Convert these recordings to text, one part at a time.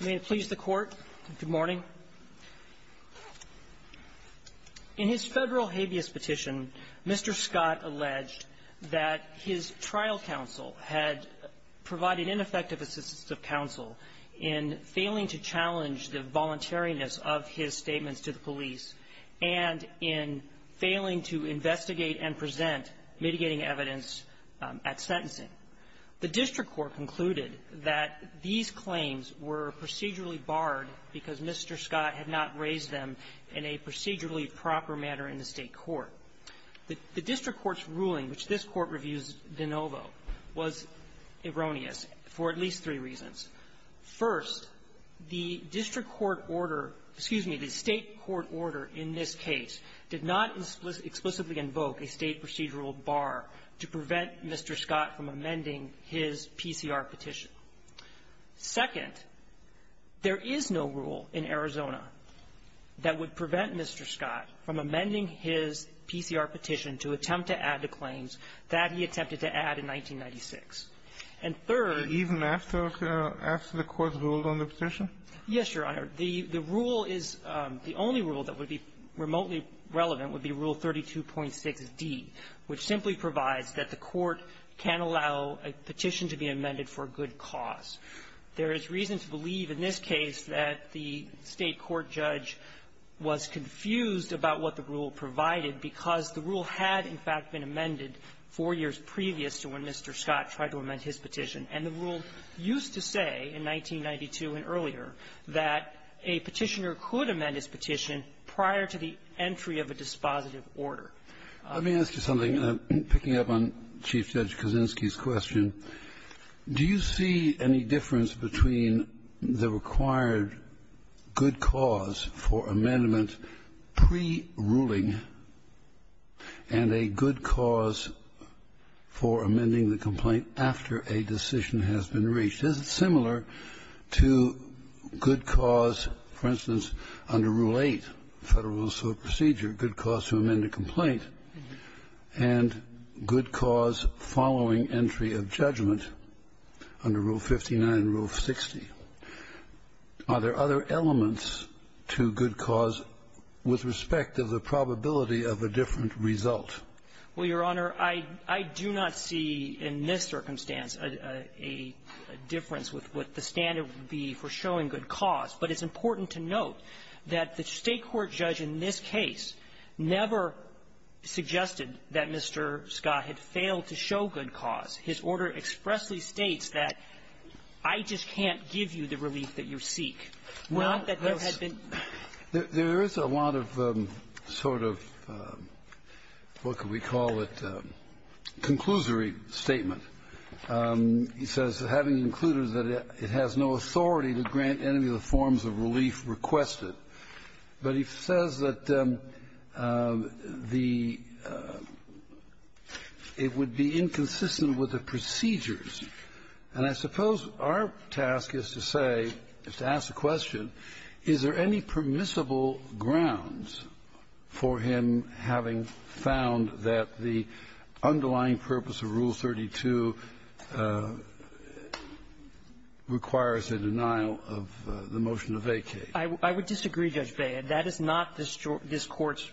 May it please the Court. Good morning. In his federal habeas petition, Mr. Scott alleged that his trial counsel had provided ineffective assistance of counsel in failing to challenge the voluntariness of his statements to the police and in failing to investigate and present mitigating evidence at sentencing. The district court concluded that these claims were procedurally barred because Mr. Scott had not raised them in a procedurally proper manner in the State court. The district court's ruling, which this Court reviews de novo, was erroneous for at least three reasons. First, the district court order excuse me, the State court order in this case did not explicitly invoke a State procedural bar to prevent Mr. Scott from amending his PCR petition. Second, there is no rule in Arizona that would prevent Mr. Scott from amending his PCR petition to attempt to add the claims that he attempted to add in 1996. And third -- Even after the Court's rule on the petition? Yes, Your Honor. The rule is the only rule that would be remotely relevant would be Rule 32.6d, which simply provides that the Court can't allow a petition to be amended for a good cause. There is reason to believe in this case that the State court judge was confused about what the rule provided because the rule had, in fact, been amended four years previous to when Mr. Scott tried to amend his petition. And the rule used to say in 1992 and earlier that a petitioner could amend his petition prior to the entry of a dispositive order. Let me ask you something. Picking up on Chief Judge Kaczynski's question, do you see any difference between the required good cause for amendment pre-ruling and a good cause pre-ruling for amending the complaint after a decision has been reached? Is it similar to good cause, for instance, under Rule 8, Federal Rules of Procedure, good cause to amend a complaint, and good cause following entry of judgment under Rule 59 and Rule 60? Are there other elements to good cause with respect of the probability of a different result? Well, Your Honor, I do not see in this circumstance a difference with what the standard would be for showing good cause. But it's important to note that the State court judge in this case never suggested that Mr. Scott had failed to show good cause. His order expressly states that, I just can't give you the relief that you seek. Not that there had been ---- There is a lot of sort of what can we call it, conclusory statement. He says, having concluded that it has no authority to grant any of the forms of relief requested, but he says that the ---- it would be inconsistent with the procedures. And I suppose our task is to say, is to ask the question, is there any permissible grounds for him having found that the underlying purpose of Rule 32 requires a denial of the motion of vacay? I would disagree, Judge Beyer. That is not this Court's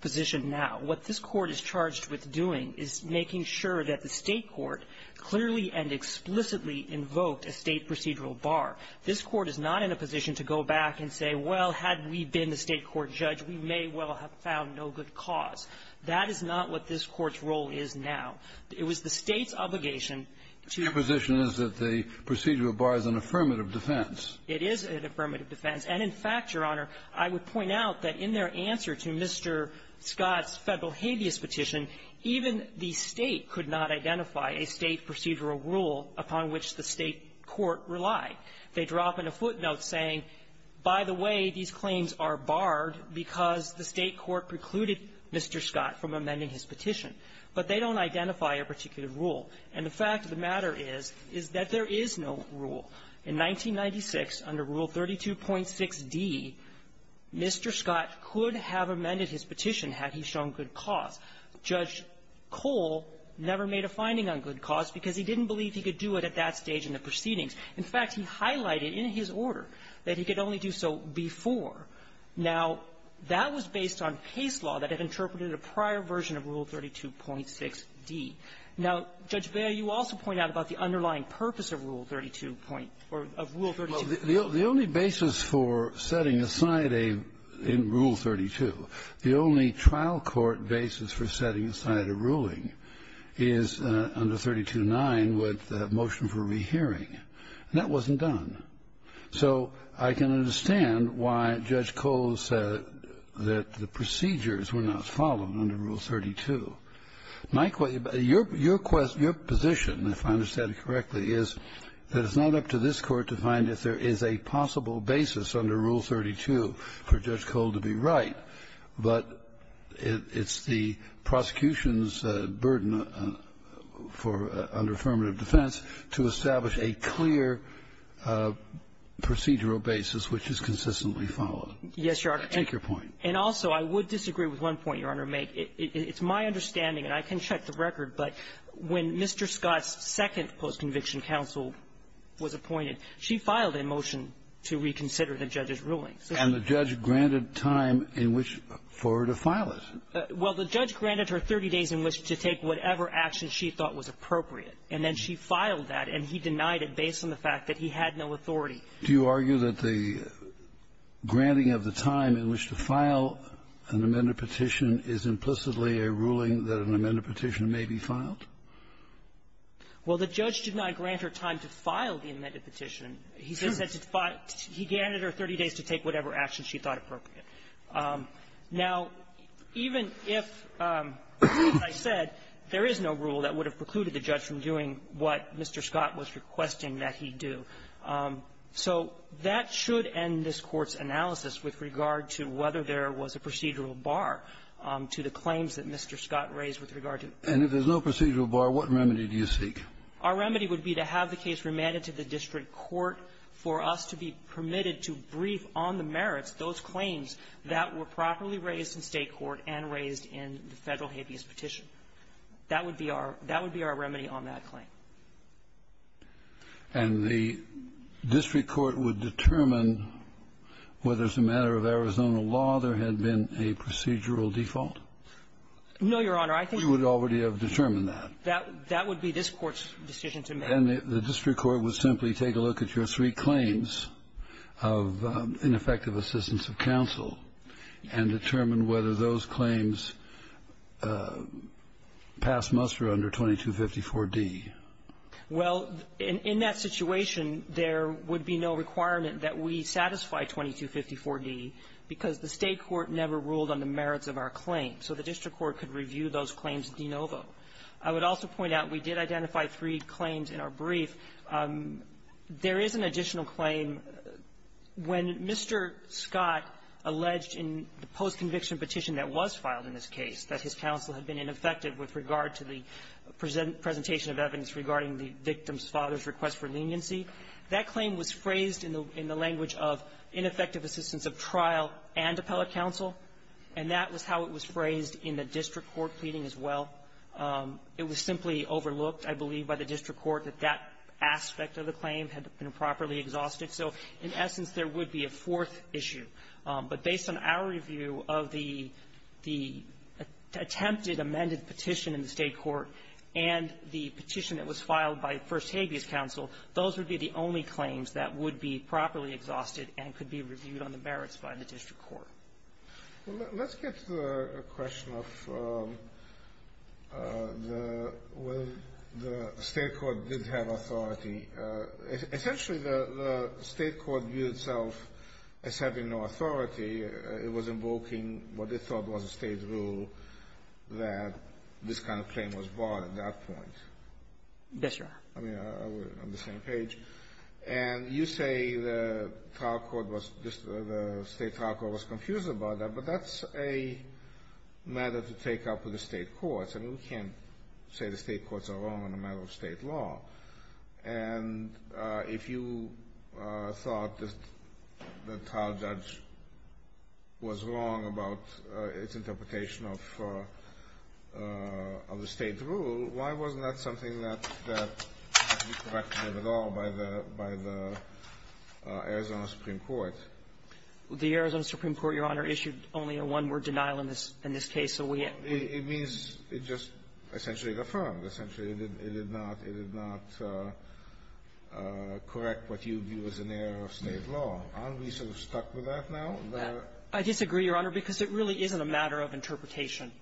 position now. What this Court is charged with doing is making sure that the State court clearly and explicitly invoked a State procedural bar. This Court is not in a position to go back and say, well, had we been the State court judge, we may well have found no good cause. That is not what this Court's role is now. It was the State's obligation to ---- Your position is that the procedural bar is an affirmative defense. It is an affirmative defense. And in fact, Your Honor, I would point out that in their answer to Mr. Scott's Federal habeas petition, even the State could not identify a State procedural rule upon which the State court relied. They drop in a footnote saying, by the way, these claims are barred because the State court precluded Mr. Scott from amending his petition. But they don't identify a particular rule. And the fact of the matter is, is that there is no rule. In 1996, under Rule 32.6d, Mr. Scott could have amended his petition had he shown good cause. Judge Cole never made a finding on good cause because he didn't believe he could do it at that stage in the proceedings. In fact, he highlighted in his order that he could only do so before. Now, that was based on case law that had interpreted a prior version of Rule 32.6d. Now, Judge Bail, you also point out about the underlying purpose of Rule 32. Or of Rule 32. The only basis for setting aside a rule 32, the only trial court basis for setting aside a ruling is under 32.9 with the motion for rehearing. And that wasn't done. So I can understand why Judge Cole said that the procedures were not followed under Rule 32. My question to you, your position, if I understand it correctly, is that it's not up to this Court to find if there is a possible basis under Rule 32 for Judge Cole to be right, but it's the prosecution's burden for under affirmative defense to establish a clear procedural basis which is consistently followed. Yes, Your Honor. Take your point. And also, I would disagree with one point, Your Honor. It's my understanding, and I can check the record, but when Mr. Scott's second post-conviction counsel was appointed, she filed a motion to reconsider the judge's ruling. And the judge granted time in which for her to file it. Well, the judge granted her 30 days in which to take whatever action she thought was appropriate. And then she filed that, and he denied it based on the fact that he had no authority. Do you argue that the granting of the time in which to file an amended petition is implicitly a ruling that an amended petition may be filed? Well, the judge did not grant her time to file the amended petition. He said that he granted her 30 days to take whatever action she thought appropriate. Now, even if, as I said, there is no rule that would have precluded the judge from So that should end this Court's analysis with regard to whether there was a procedural bar to the claims that Mr. Scott raised with regard to the ---- And if there's no procedural bar, what remedy do you seek? Our remedy would be to have the case remanded to the district court for us to be permitted to brief on the merits, those claims that were properly raised in State court and raised in the Federal habeas petition. That would be our remedy on that claim. And the district court would determine whether as a matter of Arizona law there had been a procedural default? No, Your Honor. I think we would already have determined that. That would be this Court's decision to make. And the district court would simply take a look at your three claims of ineffective assistance of counsel and determine whether those claims pass muster under 2254d. Well, in that situation, there would be no requirement that we satisfy 2254d because the State court never ruled on the merits of our claim. So the district court could review those claims de novo. I would also point out we did identify three claims in our brief. There is an additional claim. When Mr. Scott alleged in the post-conviction petition that was filed in this case that his counsel had been ineffective with regard to the presentation of evidence regarding the victim's father's request for leniency, that claim was phrased in the language of ineffective assistance of trial and appellate counsel, and that was how it was phrased in the district court pleading as well. It was simply overlooked, I believe, by the district court that that aspect of the claim had been properly exhausted. So in essence, there would be a fourth issue. But based on our review of the attempted amended petition in the State court and the petition that was filed by First Habeas Counsel, those would be the only claims that would be properly exhausted and could be reviewed on the merits by the district court. Let's get to the question of whether the State court did have authority. Essentially, the State court viewed itself as having no authority. It was invoking what they thought was a State rule that this kind of claim was brought at that point. Yes, Your Honor. I mean, on the same page. And you say the trial court was just the State trial court was confused about that. But that's a matter to take up with the State courts. I mean, we can't say the State courts are wrong on a matter of State law. And if you thought that the trial judge was wrong about its interpretation of the State rule, why wasn't that something that was corrected at all by the Arizona Supreme Court? The Arizona Supreme Court, Your Honor, issued only a one-word denial in this case. So we had to be ---- It means it just essentially affirmed. Essentially, it did not correct what you view as an error of State law. Aren't we sort of stuck with that now? I disagree, Your Honor, because it really isn't a matter of interpretation.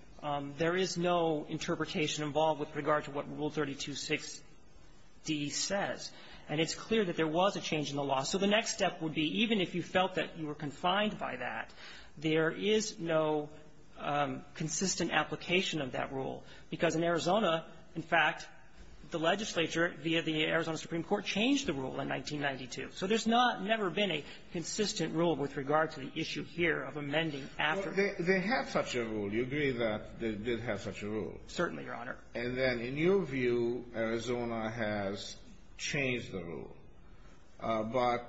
There is no interpretation involved with regard to what Rule 32.6d says. And it's clear that there was a change in the law. So the next step would be, even if you felt that you were confined by that, there is no consistent application of that rule. Because in Arizona, in fact, the legislature, via the Arizona Supreme Court, changed the rule in 1992. So there's not never been a consistent rule with regard to the issue here of amending after ---- They had such a rule. Do you agree that they did have such a rule? Certainly, Your Honor. And then, in your view, Arizona has changed the rule. But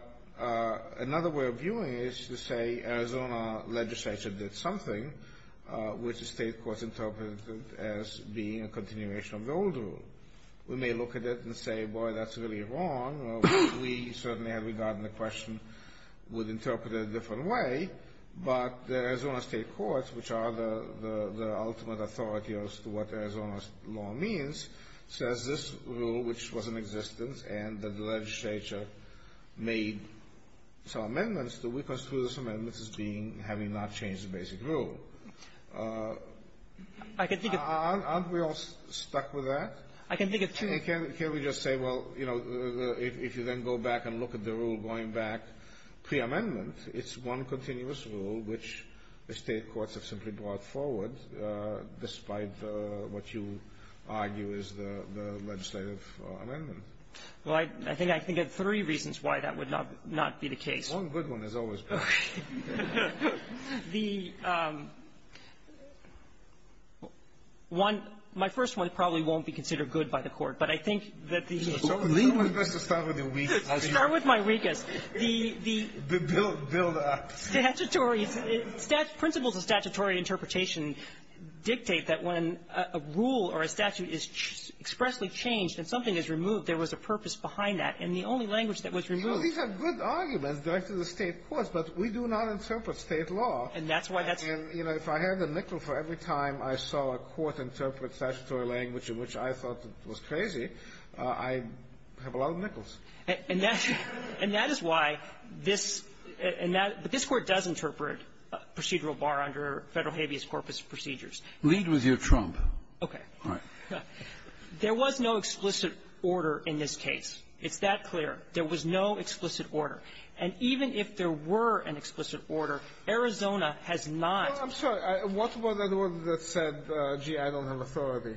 another way of viewing it is to say Arizona legislature did something which the state courts interpreted as being a continuation of the old rule. We may look at it and say, boy, that's really wrong. We certainly had regard and the question would interpret it a different way. But the Arizona state courts, which are the ultimate authority as to what Arizona's law means, says this rule, which was in existence, and the legislature made some amendments to it, because through those amendments is being, having not changed the basic rule. I can think of ---- Aren't we all stuck with that? I can think of ---- See, can't we just say, well, you know, if you then go back and look at the rule going back pre-amendment, it's one continuous rule which the state courts have simply brought forward, despite what you argue is the legislative amendment. Well, I think I can think of three reasons why that would not be the case. One good one has always been. The one ---- my first one probably won't be considered good by the Court, but I think that the ---- So it's best to start with your weakest. I'll start with my weakest. The ---- Build up. Statutory ---- principles of statutory interpretation dictate that when a rule or a statute is expressly changed and something is removed, there was a purpose behind that. And the only language that was removed ---- Well, these are good arguments directed to the state courts, but we do not interpret state law. And that's why that's ---- And, you know, if I had the nickel for every time I saw a court interpret statutory language in which I thought was crazy, I have a lot of nickels. And that's why this ---- and that ---- but this Court does interpret procedural bar under Federal habeas corpus procedures. Lead with your trump. Okay. All right. There was no explicit order in this case. It's that clear. There was no explicit order. And even if there were an explicit order, Arizona has not ---- I'm sorry. What was the word that said, gee, I don't have authority?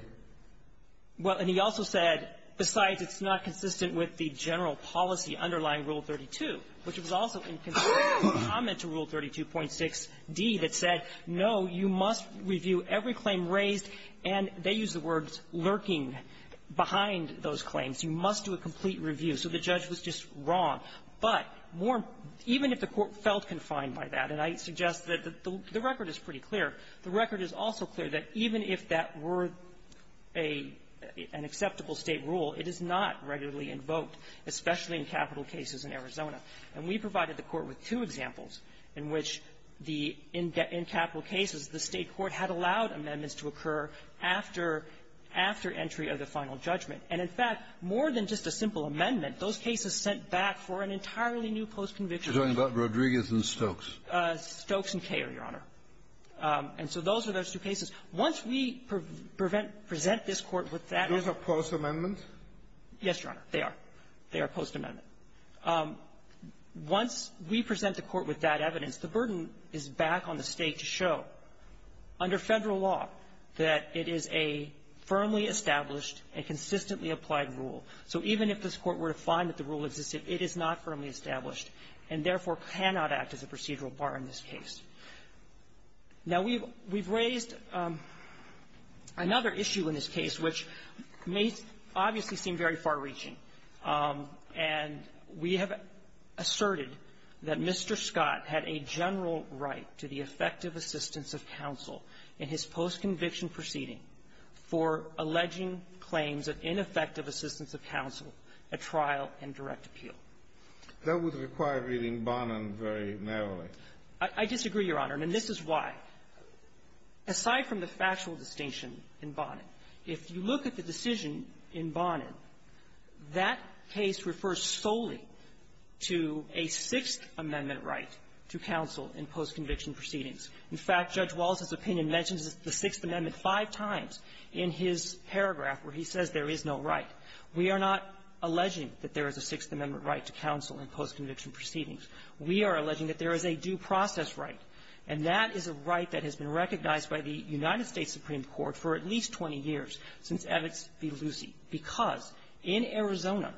Well, and he also said, besides it's not consistent with the general policy underlying Rule 32, which was also in complete comment to Rule 32.6d that said, no, you must review every claim raised, and they used the words lurking behind those claims. You must do a complete review. So the judge was just wrong. But more ---- even if the Court felt confined by that, and I suggest that the record is pretty clear, the record is also clear that even if that were a ---- an acceptable State rule, it is not regularly invoked, especially in capital cases in Arizona. And we provided the Court with two examples in which the ---- in capital cases, the State court had allowed amendments to occur after entry of the final judgment. And, in fact, more than just a simple amendment, those cases sent back for an entirely new postconviction. You're talking about Rodriguez and Stokes. Stokes and Koehler, Your Honor. And so those are those two cases. Once we prevent ---- present this Court with that ---- Those are postamendments? Yes, Your Honor. They are. They are postamendment. Once we present the Court with that evidence, the burden is back on the State to show, under Federal law, that it is a firmly established and consistently applied rule. So even if this Court were to find that the rule existed, it is not firmly established and, therefore, cannot act as a procedural bar in this case. Now, we've raised another issue in this case, which may obviously seem very far-reaching. And we have asserted that Mr. Scott had a general right to the effective assistance of counsel in his postconviction proceeding for alleging claims of ineffective assistance of counsel at trial and direct appeal. That would require reading Bonin very narrowly. I disagree, Your Honor. And this is why. Aside from the factual distinction in Bonin, if you look at the decision in Bonin, that case refers solely to a Sixth Amendment right to counsel in postconviction proceedings. In fact, Judge Wallace's opinion mentions the Sixth Amendment five times in his paragraph, where he says there is no right. We are not alleging that there is a Sixth Amendment right to counsel in postconviction proceedings. We are alleging that there is a due process right. And that is a right that has been recognized by the United States Supreme Court for at least 20 years since Evitz v. Lucie, because in Arizona,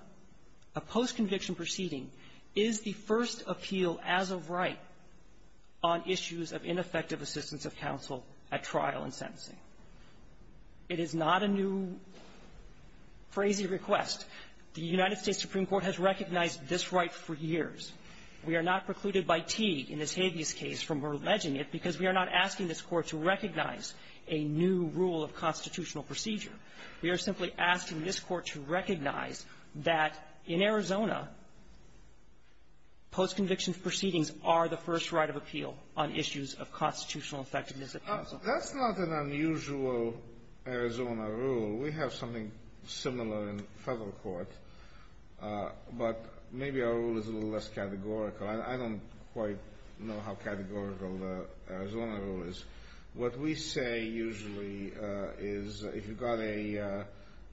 a postconviction proceeding is the first appeal as of right on issues of ineffective assistance of counsel at trial and sentencing. It is not a new, crazy request. The United States Supreme Court has recognized this right for years. We are not precluded by Teague in this habeas case from alleging it because we are not asking this Court to recognize a new rule of constitutional procedure. We are simply asking this Court to recognize that in Arizona, postconviction proceedings are the first right of appeal on issues of constitutional effectiveness of counsel. That's not an unusual Arizona rule. We have something similar in federal court. But maybe our rule is a little less categorical. I don't quite know how categorical the Arizona rule is. What we say usually is, if you've got a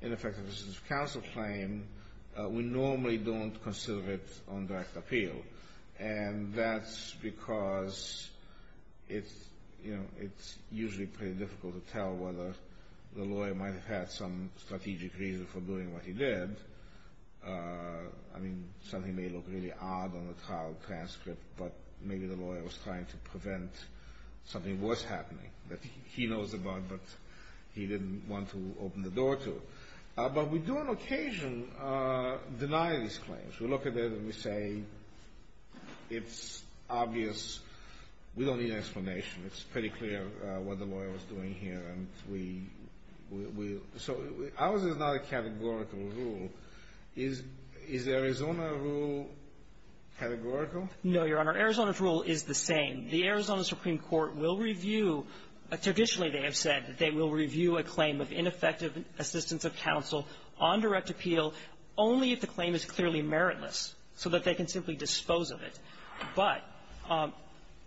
ineffective assistance of counsel claim, we normally don't consider it on direct appeal. And that's because it's, you know, it's usually pretty difficult to tell whether the lawyer might have had some strategic reason for doing what he did. I mean, something may look really odd on the trial transcript, but maybe the lawyer was trying to prevent something worse happening that he knows about but he didn't want to open the door to. But we do on occasion deny these claims. We look at it and we say, it's obvious. We don't need an explanation. It's pretty clear what the lawyer was doing here. And we – so ours is not a categorical rule. Is Arizona rule categorical? No, Your Honor. Arizona's rule is the same. The Arizona Supreme Court will review – traditionally, they have said that they will review a claim of ineffective assistance of counsel on direct appeal only if the claim is clearly meritless, so that they can simply dispose of it. But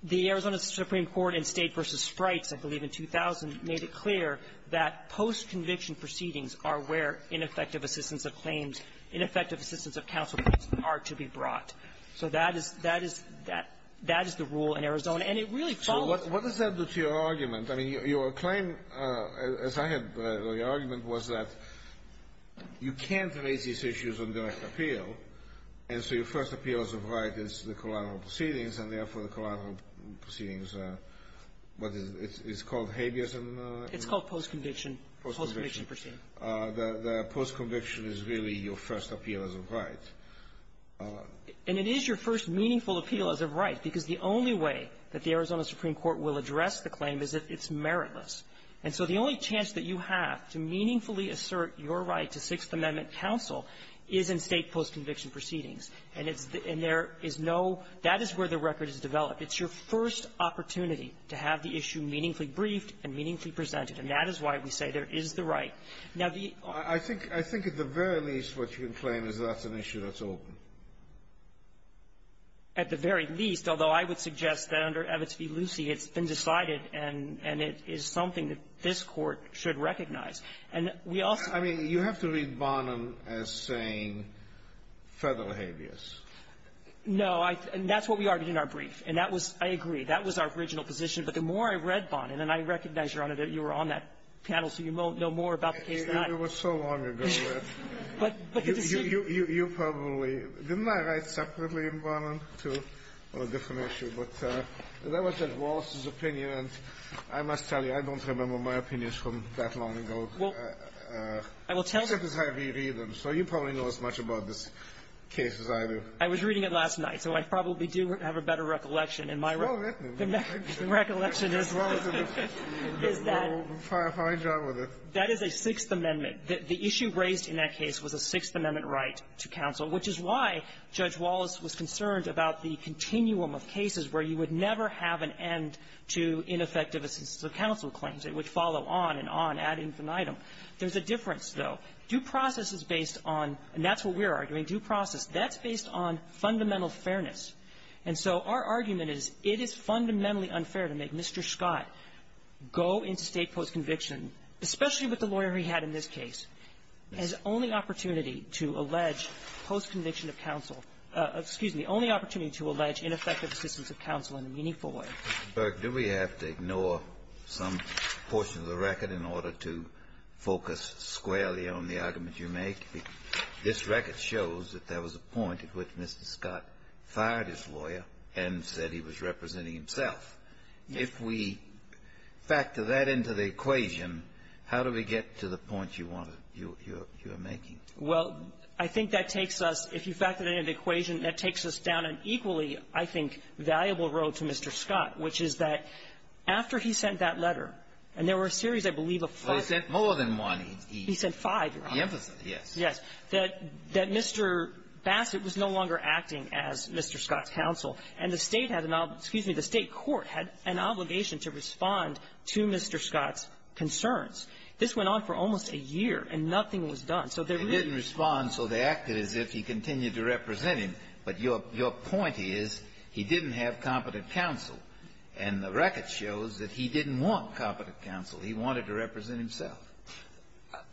the Arizona Supreme Court in State v. Sprites, I believe in 2000, made it clear that post-conviction proceedings are where ineffective assistance of claims, ineffective assistance of counsel are to be brought. So that is – that is – that is the rule in Arizona. And it really follows – So what does that do to your argument? I mean, your claim, as I had the argument, was that you can't raise these issues on direct appeal. And so your first appeal as of right is the collateral proceedings, and, therefore, the collateral proceedings are what is – it's called habeas in the law? It's called post-conviction. Post-conviction. Post-conviction proceedings. The post-conviction is really your first appeal as of right. And it is your first meaningful appeal as of right, because the only way that the Arizona Supreme Court will address the claim is if it's meritless. And so the only chance that you have to meaningfully assert your right to Sixth is in State post-conviction proceedings. And it's – and there is no – that is where the record is developed. It's your first opportunity to have the issue meaningfully briefed and meaningfully presented. And that is why we say there is the right. Now, the – I think – I think at the very least what you can claim is that's an issue that's open. At the very least, although I would suggest that under Evitz v. Lucie, it's been decided and – and it is something that this Court should recognize. And we also – I mean, you have to read Bonin as saying federal habeas. No. I – and that's what we argued in our brief. And that was – I agree. That was our original position. But the more I read Bonin – and I recognize, Your Honor, that you were on that panel, so you know more about the case than I. It was so long ago that you probably – didn't I write separately in Bonin, too? Well, a different issue. But that was at Wallace's opinion, and I must tell you, I don't remember my opinions from that long ago. Well, I will tell you – Except as I reread them. So you probably know as much about this case as I do. I was reading it last night, so I probably do have a better recollection. And my – Well, let me. The recollection is that – Well, we'll find out whether – That is a Sixth Amendment. The issue raised in that case was a Sixth Amendment right to counsel, which is why Judge Wallace was concerned about the continuum of cases where you would never have an end to ineffective assistance of counsel claims, which follow on and on, ad infinitum. There's a difference, though. Due process is based on – and that's what we're arguing, due process. That's based on fundamental fairness. And so our argument is, it is fundamentally unfair to make Mr. Scott go into State postconviction, especially with the lawyer he had in this case, his only opportunity to allege postconviction of counsel – excuse me, only opportunity to allege ineffective assistance of counsel in a meaningful way. Burk, do we have to ignore some portion of the record in order to focus squarely on the argument you make? This record shows that there was a point at which Mr. Scott fired his lawyer and said he was representing himself. If we factor that into the equation, how do we get to the point you want to – you are making? Well, I think that takes us – if you factor that into the equation, that takes us down an equally, I think, valuable road to Mr. Scott, which is that after he sent that letter, and there were a series, I believe, of five – Well, he sent more than one. He sent five, Your Honor. The opposite, yes. Yes. That Mr. Bassett was no longer acting as Mr. Scott's counsel, and the State had an – excuse me, the State court had an obligation to respond to Mr. Scott's concerns. This went on for almost a year, and nothing was done. So they really – And so they acted as if he continued to represent him. But your point is he didn't have competent counsel. And the record shows that he didn't want competent counsel. He wanted to represent himself.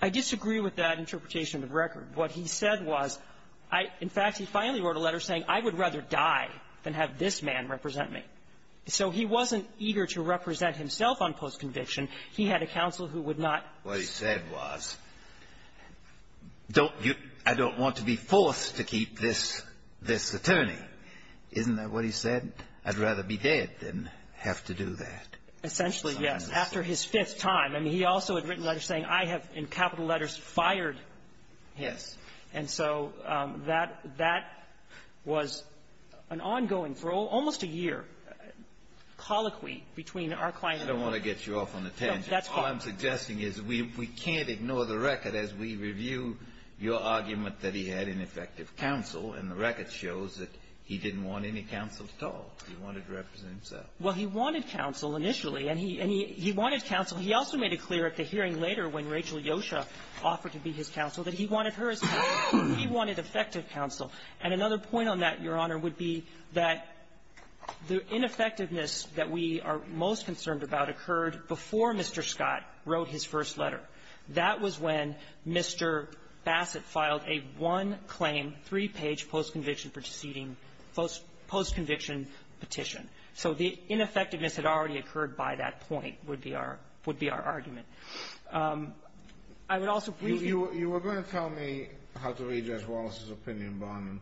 I disagree with that interpretation of the record. What he said was – in fact, he finally wrote a letter saying, I would rather die than have this man represent me. So he wasn't eager to represent himself on post-conviction. He had a counsel who would not – What he said was, don't you – I don't want to be forced to keep this attorney. Isn't that what he said? I'd rather be dead than have to do that. Essentially, yes. After his fifth time. I mean, he also had written letters saying, I have, in capital letters, FIRED him. And so that – that was an ongoing, for almost a year, colloquy between our client and the lawyer. No, that's fine. All I'm suggesting is we – we can't ignore the record as we review your argument that he had ineffective counsel. And the record shows that he didn't want any counsel at all. He wanted to represent himself. Well, he wanted counsel initially. And he – and he – he wanted counsel. He also made it clear at the hearing later when Rachel Yosha offered to be his counsel that he wanted her as counsel. He wanted effective counsel. And another point on that, Your Honor, would be that the ineffectiveness that we are most concerned about occurred before Mr. Scott wrote his first letter. That was when Mr. Bassett filed a one-claim, three-page post-conviction proceeding – post-conviction petition. So the ineffectiveness had already occurred by that point, would be our – would be our argument. I would also please you – You were going to tell me how to read Judge Wallace's opinion, Barnum.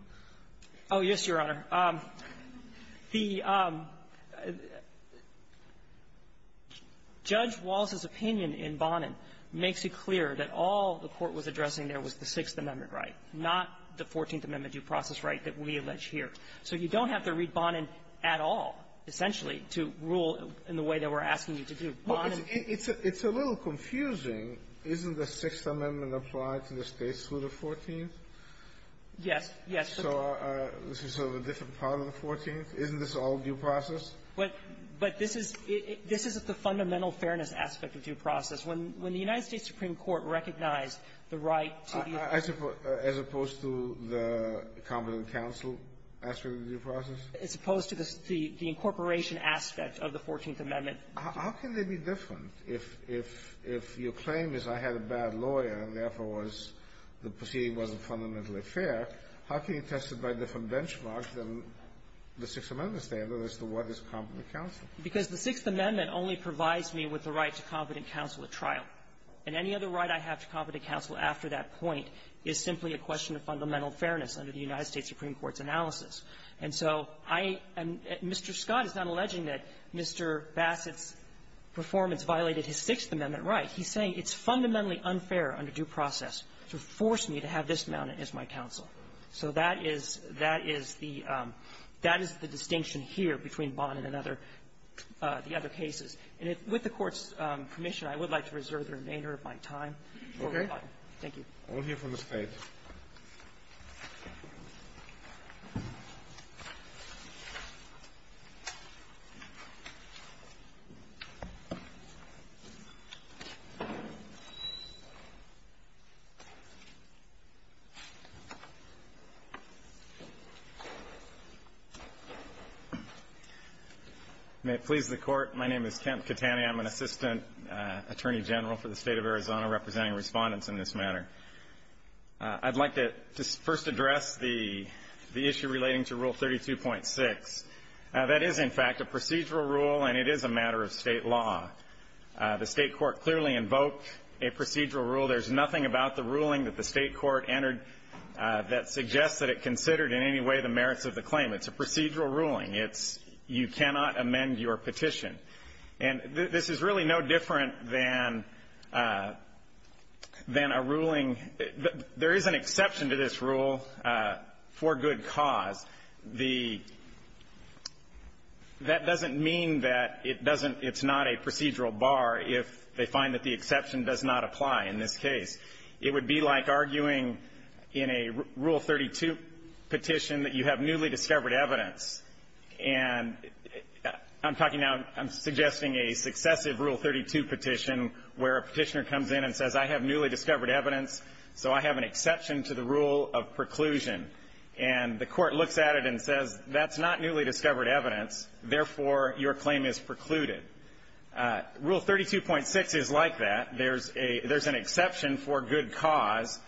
Oh, yes, Your Honor. The – Judge Wallace's opinion in Barnum makes it clear that all the court was addressing there was the Sixth Amendment right, not the Fourteenth Amendment due process right that we allege here. So you don't have to read Barnum at all, essentially, to rule in the way that we're asking you to do. Barnum – Well, it's – it's a – it's a little confusing. Isn't the Sixth Amendment applied to the States through the Fourteenth? Yes. Yes. So this is sort of a different part of the Fourteenth? Isn't this all due process? But – but this is – this is the fundamental fairness aspect of due process. When – when the United States Supreme Court recognized the right to the – As opposed to the competent counsel aspect of due process? As opposed to the – the incorporation aspect of the Fourteenth Amendment. How can they be different? If – if – if your claim is I had a bad lawyer and, therefore, was – the proceeding wasn't fundamentally fair, how can you test it by different benchmarks than the Sixth Amendment standard as to what is competent counsel? Because the Sixth Amendment only provides me with the right to competent counsel at trial, and any other right I have to competent counsel after that point is simply a question of fundamental fairness under the United States Supreme Court's analysis. And so I – and Mr. Scott is not alleging that Mr. Bassett's performance violated his Sixth Amendment right. He's saying it's fundamentally unfair under due process to force me to have this mounted as my counsel. So that is – that is the – that is the distinction here between Bonin and other – the other cases. And with the Court's permission, I would like to reserve the remainder of my time for reply. Thank you. I will hear from the State. May it please the Court, my name is Kent Catani. I'm an assistant attorney general for the State of Arizona representing respondents in this matter. I'd like to first address the issue relating to Rule 32.6. That is, in fact, a procedural rule, and it is a matter of State law. The State court clearly invoked a procedural rule. There's nothing about the ruling that the State court entered that suggests that it considered in any way the merits of the claim. It's a procedural ruling. It's – you cannot amend your petition. And this is really no different than – than a ruling – there is an exception to this rule for good cause. The – that doesn't mean that it doesn't – it's not a procedural bar if they find that the exception does not apply in this case. It would be like arguing in a Rule 32 petition that you have newly discovered evidence. And I'm talking now – I'm suggesting a successive Rule 32 petition where a petitioner comes in and says, I have newly discovered evidence, so I have an exception to the rule of preclusion. And the court looks at it and says, that's not newly discovered evidence, therefore, your claim is precluded. Rule 32.6 is like that. There's a – there's an exception for good cause.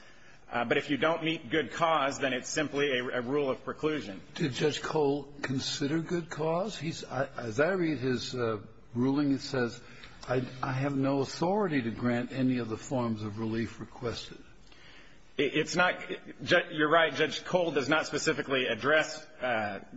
But if you don't meet good cause, then it's simply a rule of preclusion. Did Judge Cole consider good cause? He's – as I read his ruling, it says, I have no authority to grant any of the forms of relief requested. It's not – you're right. Judge Cole does not specifically address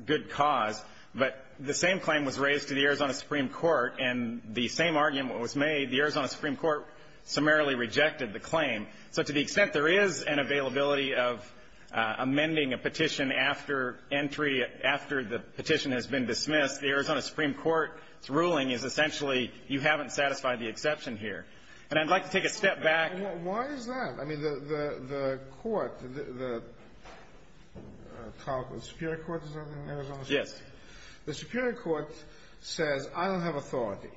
good cause. But the same claim was raised to the Arizona Supreme Court, and the same argument was made. The Arizona Supreme Court summarily rejected the claim. So to the extent there is an availability of amending a petition after entry, after the petition has been dismissed, the Arizona Supreme Court's ruling is essentially you haven't satisfied the exception here. And I'd like to take a step back. Why is that? I mean, the court, the – the Superior Court, is that the name of the court? Yes. The Superior Court says, I don't have authority.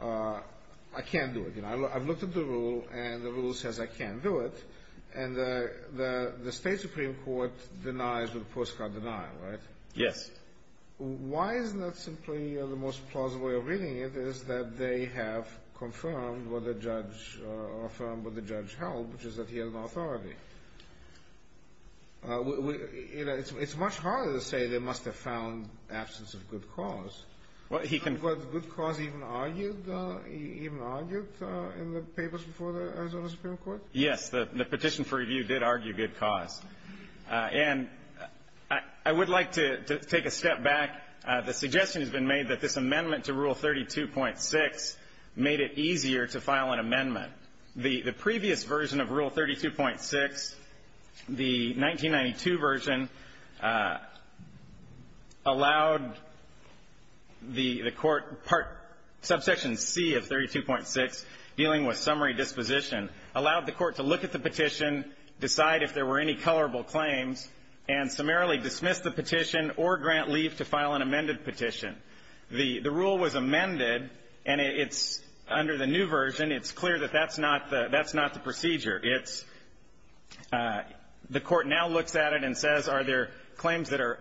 I can't do it. I've looked at the rule, and the rule says I can't do it. And the State Supreme Court denies with a postcard denial, right? Yes. Why is that simply the most plausible way of reading it is that they have confirmed what the judge – affirmed what the judge held, which is that he has no authority. You know, it's much harder to say they must have found absence of good cause. Was good cause even argued in the papers before the Arizona Supreme Court? Yes. The petition for review did argue good cause. And I would like to take a step back. The suggestion has been made that this amendment to Rule 32.6 made it easier to file an amendment. The previous version of Rule 32.6, the 1992 version, allowed the court – Subsection C of 32.6, dealing with summary disposition, allowed the court to look at the petition, decide if there were any colorable claims, and summarily dismiss the petition or grant leave to file an amended petition. The rule was amended, and it's – under the new version, it's clear that that's not the – that's not the procedure. It's – the court now looks at it and says, are there claims that are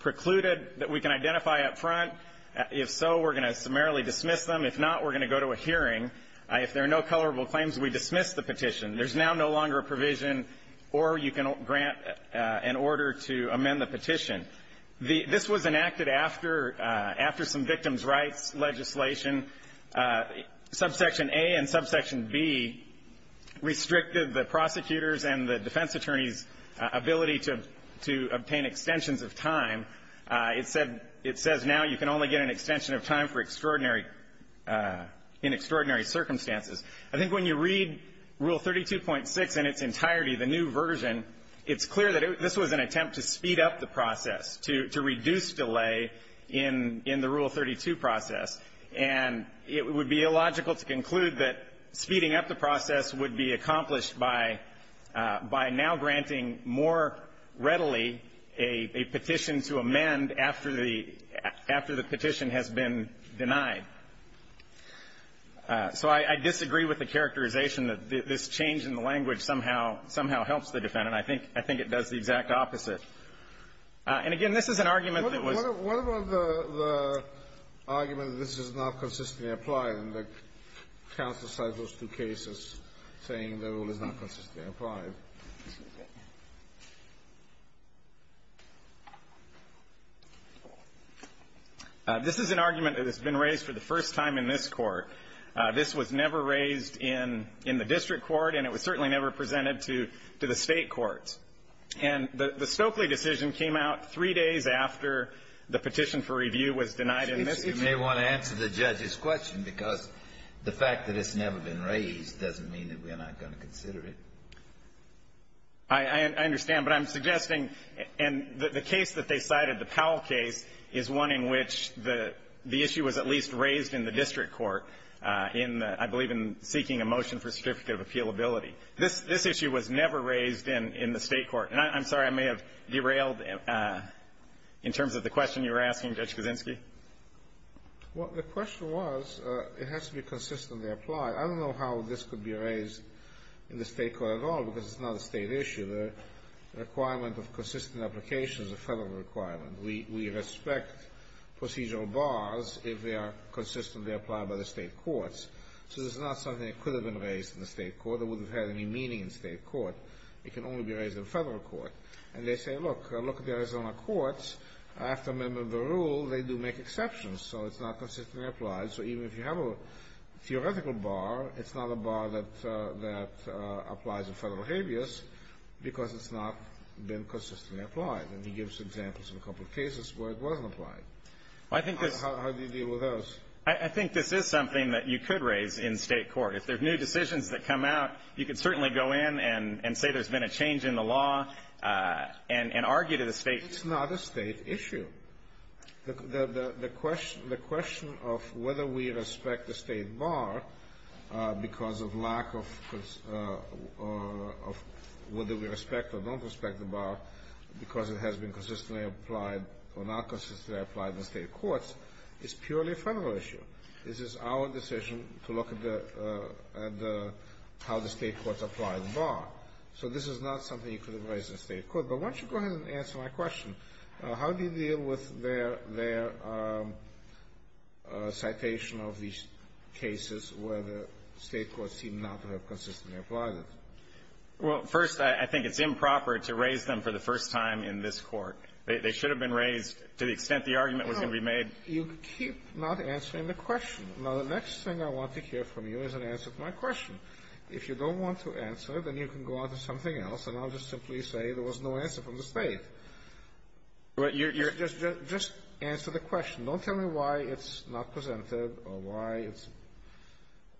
precluded that we can identify up front? If so, we're going to summarily dismiss them. If not, we're going to go to a hearing. If there are no colorable claims, we dismiss the petition. There's now no longer a provision or you can grant an order to amend the petition. The – this was enacted after – after some victims' rights legislation. Subsection A and Subsection B restricted the prosecutor's and the defense attorney's ability to – to obtain extensions of time. It said – it says now you can only get an extension of time for extraordinary – in extraordinary circumstances. I think when you read Rule 32.6 in its entirety, the new version, it's clear that this was an attempt to speed up the process, to – to reduce delay in – in the Rule 32 process. And it would be illogical to conclude that speeding up the process would be accomplished by – by now granting more readily a – a petition to amend after the – after the petition has been denied. So I – I disagree with the characterization that this change in the language somehow – somehow helps the defendant. I think – I think it does the exact opposite. And again, this is an argument that was – Kennedy. What about the – the argument that this is not consistently applied in the counsel side of those two cases, saying the rule is not consistently applied? This is an argument that has been raised for the first time in this Court. This was never raised in – in the district court, and it was certainly never presented to – to the state courts. And the – the Stokely decision came out three days after the petition for review was denied in this case. You may want to answer the judge's question, because the fact that it's never been raised doesn't mean that we're not going to consider it. I – I understand. But I'm suggesting – and the case that they cited, the Powell case, is one in which the – the issue was at least raised in the district court in the – I believe in seeking a motion for certificate of appealability. This – this issue was never raised in – in the state court. And I'm sorry. I may have derailed in terms of the question you were asking, Judge Kuczynski. Well, the question was it has to be consistently applied. I don't know how this could be raised in the state court at all, because it's not a state issue. The requirement of consistent application is a federal requirement. We – we respect procedural bars if they are consistently applied by the state courts. So this is not something that could have been raised in the state court. It wouldn't have had any meaning in state court. It can only be raised in federal court. And they say, look, look at the Arizona courts. After amendment of the rule, they do make exceptions. So it's not consistently applied. So even if you have a theoretical bar, it's not a bar that – that applies in federal habeas because it's not been consistently applied. And he gives examples of a couple of cases where it wasn't applied. How do you deal with those? I think this is something that you could raise in state court. If there are new decisions that come out, you can certainly go in and say there's been a change in the law and – and argue to the state. It's not a state issue. The – the question – the question of whether we respect the state bar because of lack of – of whether we respect or don't respect the bar because it has been our decision to look at the – at the – how the state courts apply the bar. So this is not something you could have raised in state court. But why don't you go ahead and answer my question. How do you deal with their – their citation of these cases where the state courts seem not to have consistently applied it? Well, first, I think it's improper to raise them for the first time in this Court. They should have been raised to the extent the argument was going to be made. You keep not answering the question. Now, the next thing I want to hear from you is an answer to my question. If you don't want to answer, then you can go out to something else, and I'll just simply say there was no answer from the state. But you're – you're – just – just answer the question. Don't tell me why it's not presented or why it's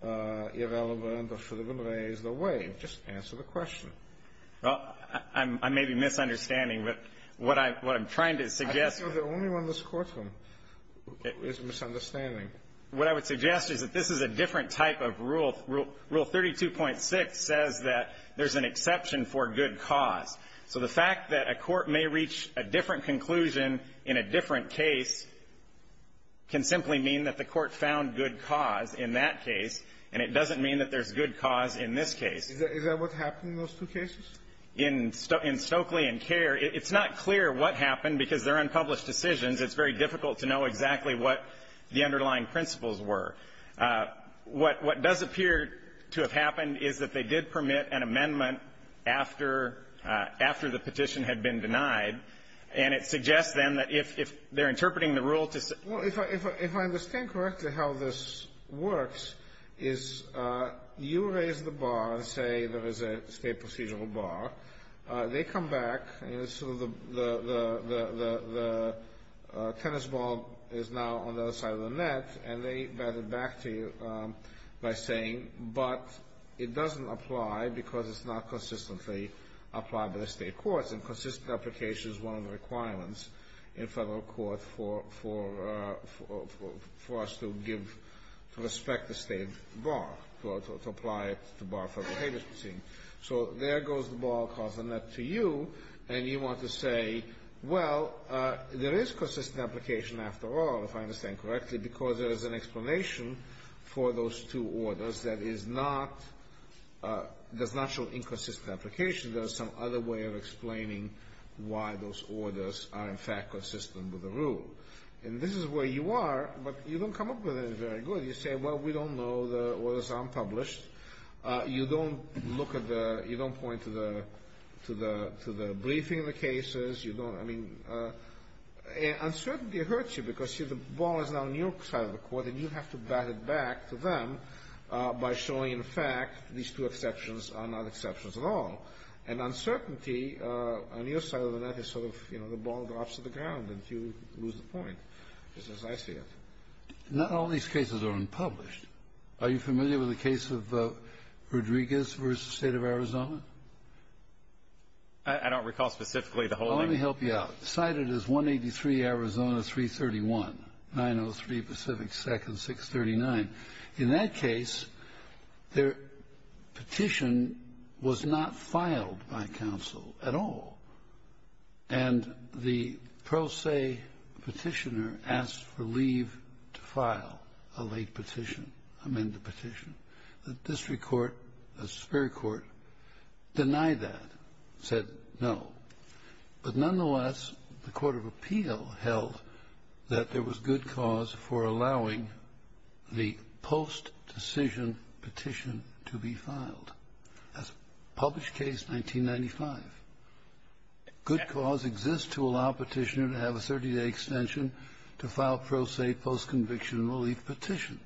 irrelevant or should have been raised or waived. Just answer the question. Well, I'm – I may be misunderstanding, but what I – what I'm trying to suggest You're the only one in this courtroom who is misunderstanding. What I would suggest is that this is a different type of rule. Rule 32.6 says that there's an exception for good cause. So the fact that a court may reach a different conclusion in a different case can simply mean that the court found good cause in that case, and it doesn't mean that there's good cause in this case. Is that what happened in those two cases? In – in Stokely and Kerr, it's not clear what happened because they're unpublished decisions. It's very difficult to know exactly what the underlying principles were. What – what does appear to have happened is that they did permit an amendment after – after the petition had been denied, and it suggests, then, that if – if they're interpreting the rule to say – Well, if I – if I understand correctly how this works is you raise the bar and say there is a state procedural bar. They come back, and so the – the – the – the tennis ball is now on the other side of the net, and they bat it back to you by saying, but it doesn't apply because it's not consistently applied by the state courts, and consistent application is one of the requirements in federal court for – for – for us to give – to respect the state bar, to apply it to bar for behaviors proceedings. So there goes the ball across the net to you, and you want to say, well, there is consistent application after all, if I understand correctly, because there is an explanation for those two orders that is not – does not show inconsistent application. There is some other way of explaining why those orders are, in fact, consistent with the rule. And this is where you are, but you don't come up with it very good. You say, well, we don't know the orders are unpublished. You don't look at the – you don't point to the – to the – to the briefing of the cases. You don't – I mean, uncertainty hurts you because, see, the ball is now on your side of the court, and you have to bat it back to them by showing, in fact, these two exceptions are not exceptions at all. And uncertainty on your side of the net is sort of, you know, the ball drops to the ground and you lose the point, just as I see it. Not all these cases are unpublished. Are you familiar with the case of Rodriguez v. State of Arizona? I don't recall specifically the whole name. Let me help you out. Cited as 183 Arizona 331, 903 Pacific 2nd, 639. In that case, their petition was not filed by counsel at all. And the pro se petitioner asked for leave to file a late petition, amend the petition. The district court, the superior court, denied that, said no. But nonetheless, the court of appeal held that there was good cause for allowing the post-decision petition to be filed. That's published case 1995. Good cause exists to allow a petitioner to have a 30-day extension to file pro se post-conviction relief petition.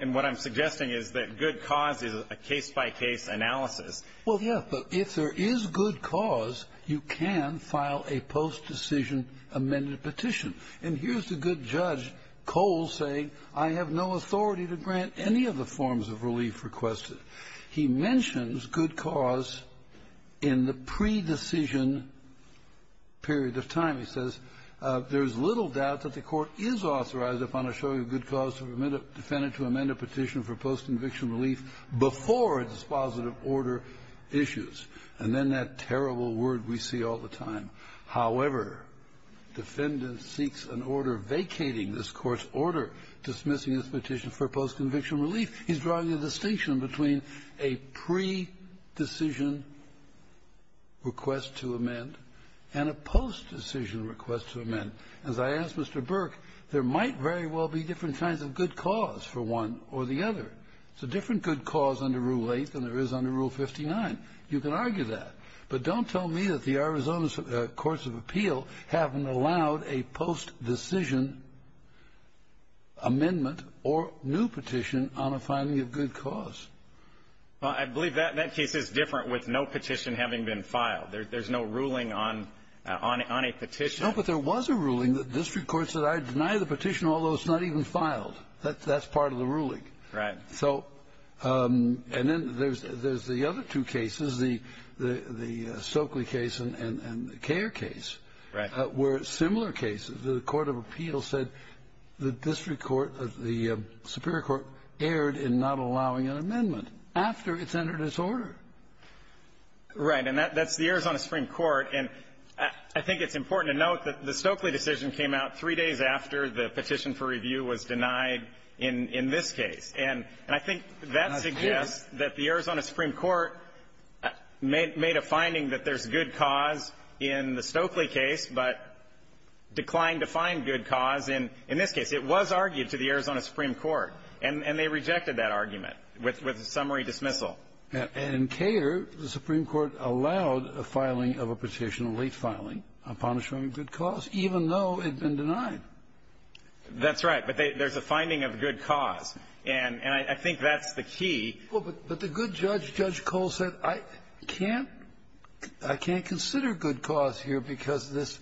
And what I'm suggesting is that good cause is a case-by-case analysis. Well, yes. But if there is good cause, you can file a post-decision amended petition. And here's the good judge, Cole, saying I have no authority to grant any of the forms of relief requested. He mentions good cause in the pre-decision period of time. He says, there is little doubt that the court is authorized upon a show of good cause to amend a petition for post-conviction relief before a dispositive order issues. And then that terrible word we see all the time. However, defendant seeks an order vacating this court's order dismissing this petition for post-conviction relief. He's drawing a distinction between a pre-decision request to amend and a post-decision request to amend. As I asked Mr. Burke, there might very well be different kinds of good cause for one or the other. There's a different good cause under Rule 8 than there is under Rule 59. You can argue that. But don't tell me that the Arizona Courts of Appeal haven't allowed a post-decision amendment or new petition on a finding of good cause. Well, I believe that case is different with no petition having been filed. There's no ruling on a petition. No, but there was a ruling. The district court said I deny the petition, although it's not even filed. That's part of the ruling. Right. So and then there's the other two cases, the Stokely case and the Kare case. Right. Where similar cases, the Court of Appeal said the district court, the superior court, erred in not allowing an amendment after it's entered its order. Right. And that's the Arizona Supreme Court. And I think it's important to note that the Stokely decision came out three days after the petition for review was denied in this case. And I think that suggests that the Arizona Supreme Court made a finding that there's good cause in the Stokely case, but declined to find good cause in this case. It was argued to the Arizona Supreme Court. And they rejected that argument with a summary dismissal. And in Kare, the Supreme Court allowed a filing of a petition, a late filing, upon assuring good cause, even though it had been denied. That's right. But there's a finding of good cause. And I think that's the key. But the good judge, Judge Cole, said, I can't consider good cause here because this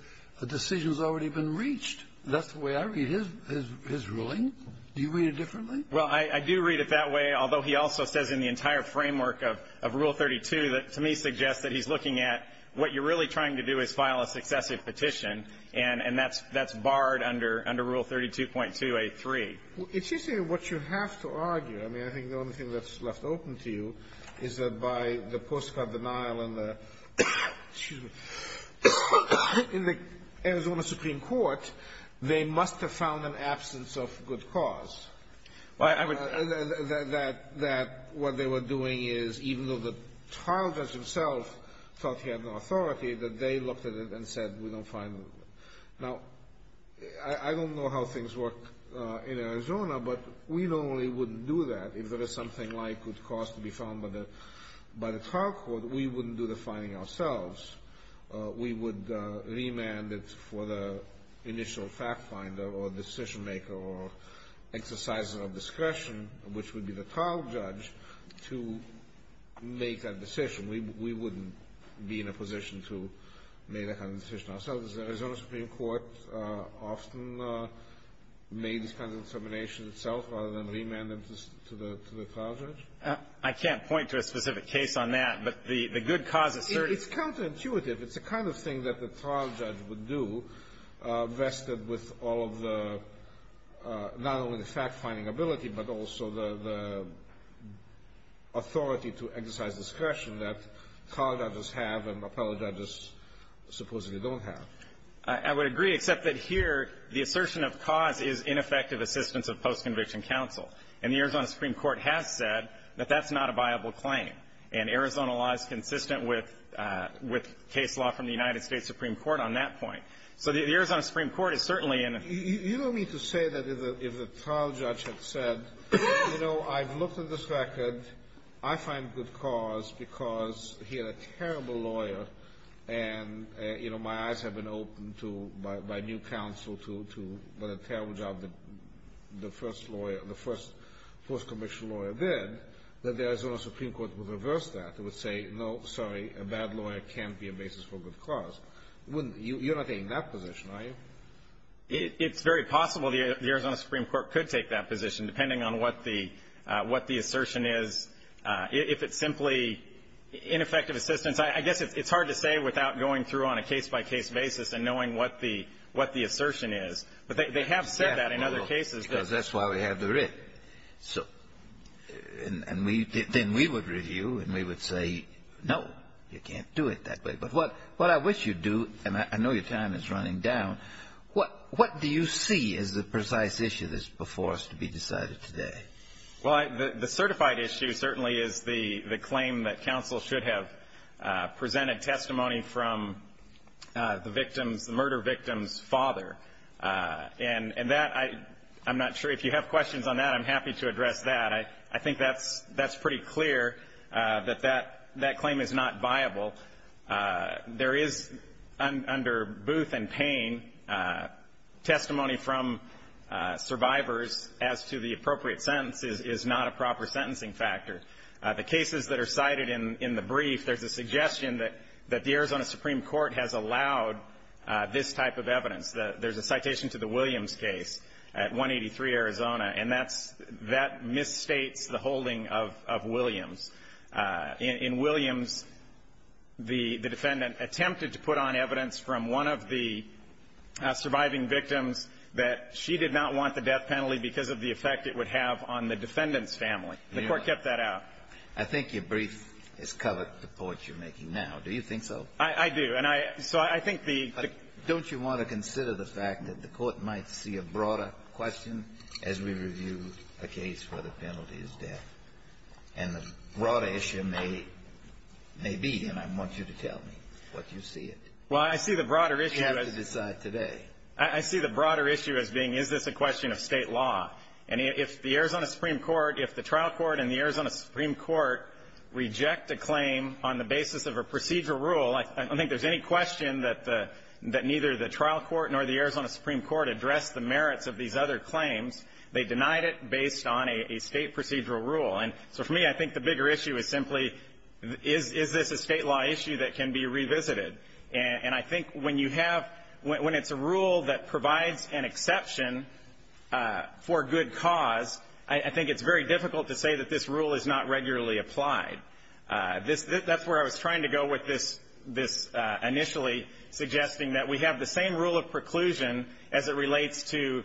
decision has already been reached. That's the way I read his ruling. Do you read it differently? Well, I do read it that way, although he also says in the entire framework of Rule 32 that to me suggests that he's looking at what you're really trying to do is file a successive petition, and that's barred under Rule 32.2a3. It's interesting what you have to argue. I mean, I think the only thing that's left open to you is that by the postcard denial in the Arizona Supreme Court, they must have found an absence of good cause, that what they were doing is, even though the trial judge himself thought he had no authority, that they looked at it and said, we don't find it. Now, I don't know how things work in Arizona, but we normally wouldn't do that. If there is something like good cause to be found by the trial court, we wouldn't do the finding ourselves. We would remand it for the initial fact finder or decision maker or exerciser of discretion, which would be the trial judge, to make that decision. We wouldn't be in a position to make that kind of decision ourselves. Does the Arizona Supreme Court often make this kind of determination itself rather than remand them to the trial judge? I can't point to a specific case on that, but the good cause is certain. It's counterintuitive. It's the kind of thing that the trial judge would do, vested with all of the, not only the fact-finding ability, but also the authority to exercise discretion that trial judges have and appellate judges supposedly don't have. I would agree, except that here, the assertion of cause is ineffective assistance of post-conviction counsel. And the Arizona Supreme Court has said that that's not a viable claim. And Arizona law is consistent with case law from the United States Supreme Court on that point. So the Arizona Supreme Court is certainly in a ---- You don't mean to say that if the trial judge had said, you know, I've looked at this record. I find good cause because he had a terrible lawyer. And, you know, my eyes have been opened to, by new counsel, to the terrible job that the first lawyer, the first post-conviction lawyer did, that the Arizona Supreme Court would reverse that. It would say, no, sorry, a bad lawyer can't be a basis for good cause. You're not taking that position, are you? It's very possible the Arizona Supreme Court could take that position, depending on what the ---- what the assertion is. If it's simply ineffective assistance, I guess it's hard to say without going through on a case-by-case basis and knowing what the ---- what the assertion is. But they have said that in other cases. Because that's why we have the writ. So ---- and we ---- then we would review, and we would say, no, you can't do it that way. But what I wish you'd do, and I know your time is running down, what do you see as the precise issue that's before us to be decided today? Well, the certified issue certainly is the claim that counsel should have presented testimony from the victim's, the murder victim's father. And that, I'm not sure if you have questions on that. I'm happy to address that. I think that's pretty clear that that claim is not viable. There is, under Booth and Payne, testimony from survivors as to the appropriate sentence is not a proper sentencing factor. The cases that are cited in the brief, there's a suggestion that the Arizona Supreme Court has allowed this type of evidence. There's a citation to the Williams case at 183 Arizona. And that's ---- that misstates the holding of Williams. In Williams, the defendant attempted to put on evidence from one of the surviving victims that she did not want the death penalty because of the effect it would have on the defendant's family. The Court kept that out. I think your brief has covered the point you're making now. Do you think so? I do. And I ---- so I think the ---- But don't you want to consider the fact that the Court might see a broader question as we review a case where the penalty is death? And the broader issue may be, and I want you to tell me what you see it. Well, I see the broader issue as ---- You have to decide today. I see the broader issue as being, is this a question of State law? And if the Arizona Supreme Court, if the trial court and the Arizona Supreme Court reject a claim on the basis of a procedural rule, I don't think there's any question that neither the trial court nor the Arizona Supreme Court addressed the merits of these other claims. They denied it based on a State procedural rule. And so for me, I think the bigger issue is simply, is this a State law issue that can be revisited? And I think when you have ---- when it's a rule that provides an exception for good cause, I think it's very difficult to say that this rule is not regularly applied. That's where I was trying to go with this initially, suggesting that we have the same rule of preclusion as it relates to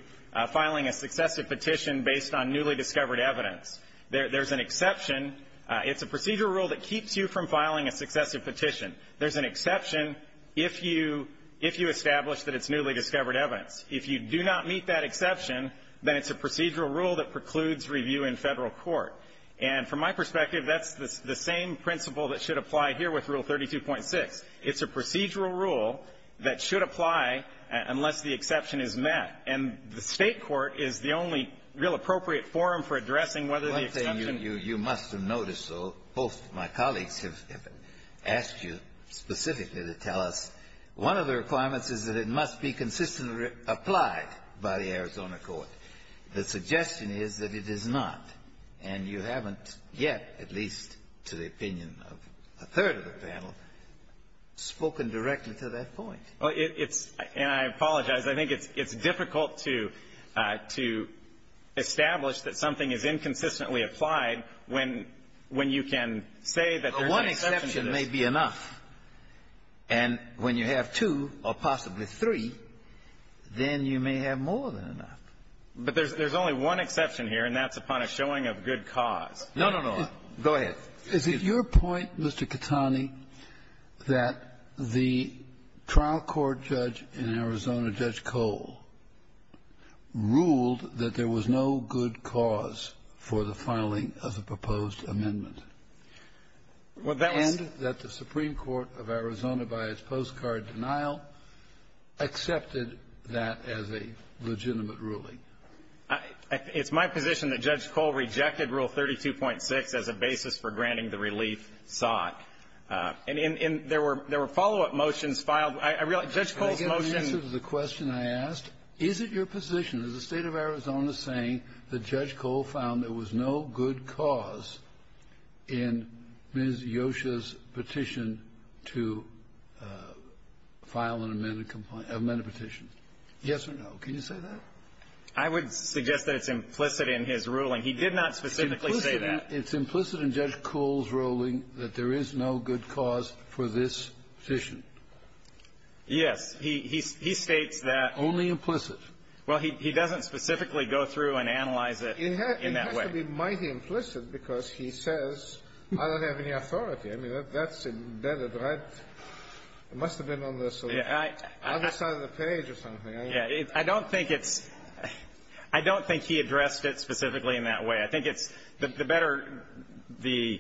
filing a successive petition based on newly discovered evidence. There's an exception. It's a procedural rule that keeps you from filing a successive petition. There's an exception if you establish that it's newly discovered evidence. If you do not meet that exception, then it's a procedural rule that precludes review in Federal court. And from my perspective, that's the same principle that should apply here with Rule 32.6. It's a procedural rule that should apply unless the exception is met. And the State court is the only real appropriate forum for addressing whether the exception ---- Kennedy. You must have noticed, though, both of my colleagues have asked you specifically to tell us one of the requirements is that it must be consistently applied by the Arizona court. The suggestion is that it is not. And you haven't yet, at least to the opinion of a third of the panel, spoken directly to that point. Well, it's ---- and I apologize. I think it's difficult to establish that something is inconsistently applied when you can say that there's an exception to this. Well, one exception may be enough. And when you have two or possibly three, then you may have more than enough. But there's only one exception here, and that's upon a showing of good cause. No, no, no. Go ahead. Is it your point, Mr. Katani, that the trial court judge in Arizona, Judge Cole, ruled that there was no good cause for the filing of the proposed amendment? Well, that was ---- And that the Supreme Court of Arizona, by its postcard denial, accepted that as a legitimate ruling. I ---- it's my position that Judge Cole rejected Rule 32.6 as a basis for granting the relief sought. And in ---- there were follow-up motions filed. I realize Judge Cole's motion ---- Can I get an answer to the question I asked? Is it your position, is the State of Arizona saying that Judge Cole found there was no good cause in Ms. Yosha's petition to file an amended complaint ---- amended petition? Yes or no. Can you say that? I would suggest that it's implicit in his ruling. He did not specifically say that. It's implicit in Judge Cole's ruling that there is no good cause for this petition. Yes. He states that ---- Only implicit. Well, he doesn't specifically go through and analyze it in that way. It has to be mighty implicit because he says, I don't have any authority. I mean, that's indebted. I must have been on the other side of the page or something. Yeah. I don't think it's ---- I don't think he addressed it specifically in that way. I think it's the better the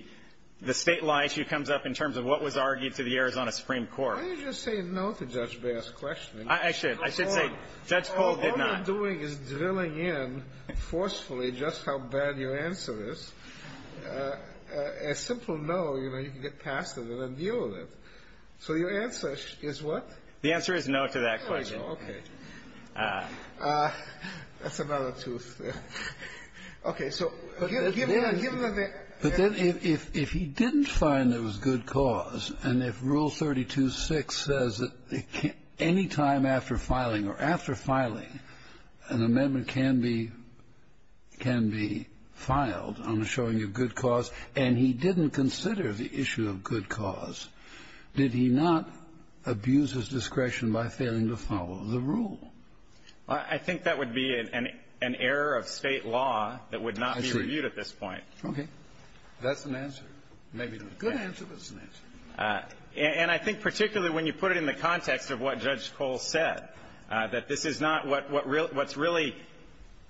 State law issue comes up in terms of what was argued to the Arizona Supreme Court. Why don't you just say no to Judge Bass's question? I should. I should say Judge Cole did not. All you're doing is drilling in forcefully just how bad your answer is. A simple no, you know, you can get past it and then deal with it. So your answer is what? The answer is no to that question. Okay. That's another tooth. Okay. So give them the ---- But then if he didn't find there was good cause, and if Rule 32.6 says that any time after filing or after filing, an amendment can be ---- can be filed on the showing of good cause, and he didn't consider the issue of good cause, did he not abuse his discretion by failing to follow the rule? I think that would be an error of State law that would not be reviewed at this point. Okay. That's an answer. Maybe not a good answer, but it's an answer. And I think particularly when you put it in the context of what Judge Cole said, that this is not what really ---- what's really ----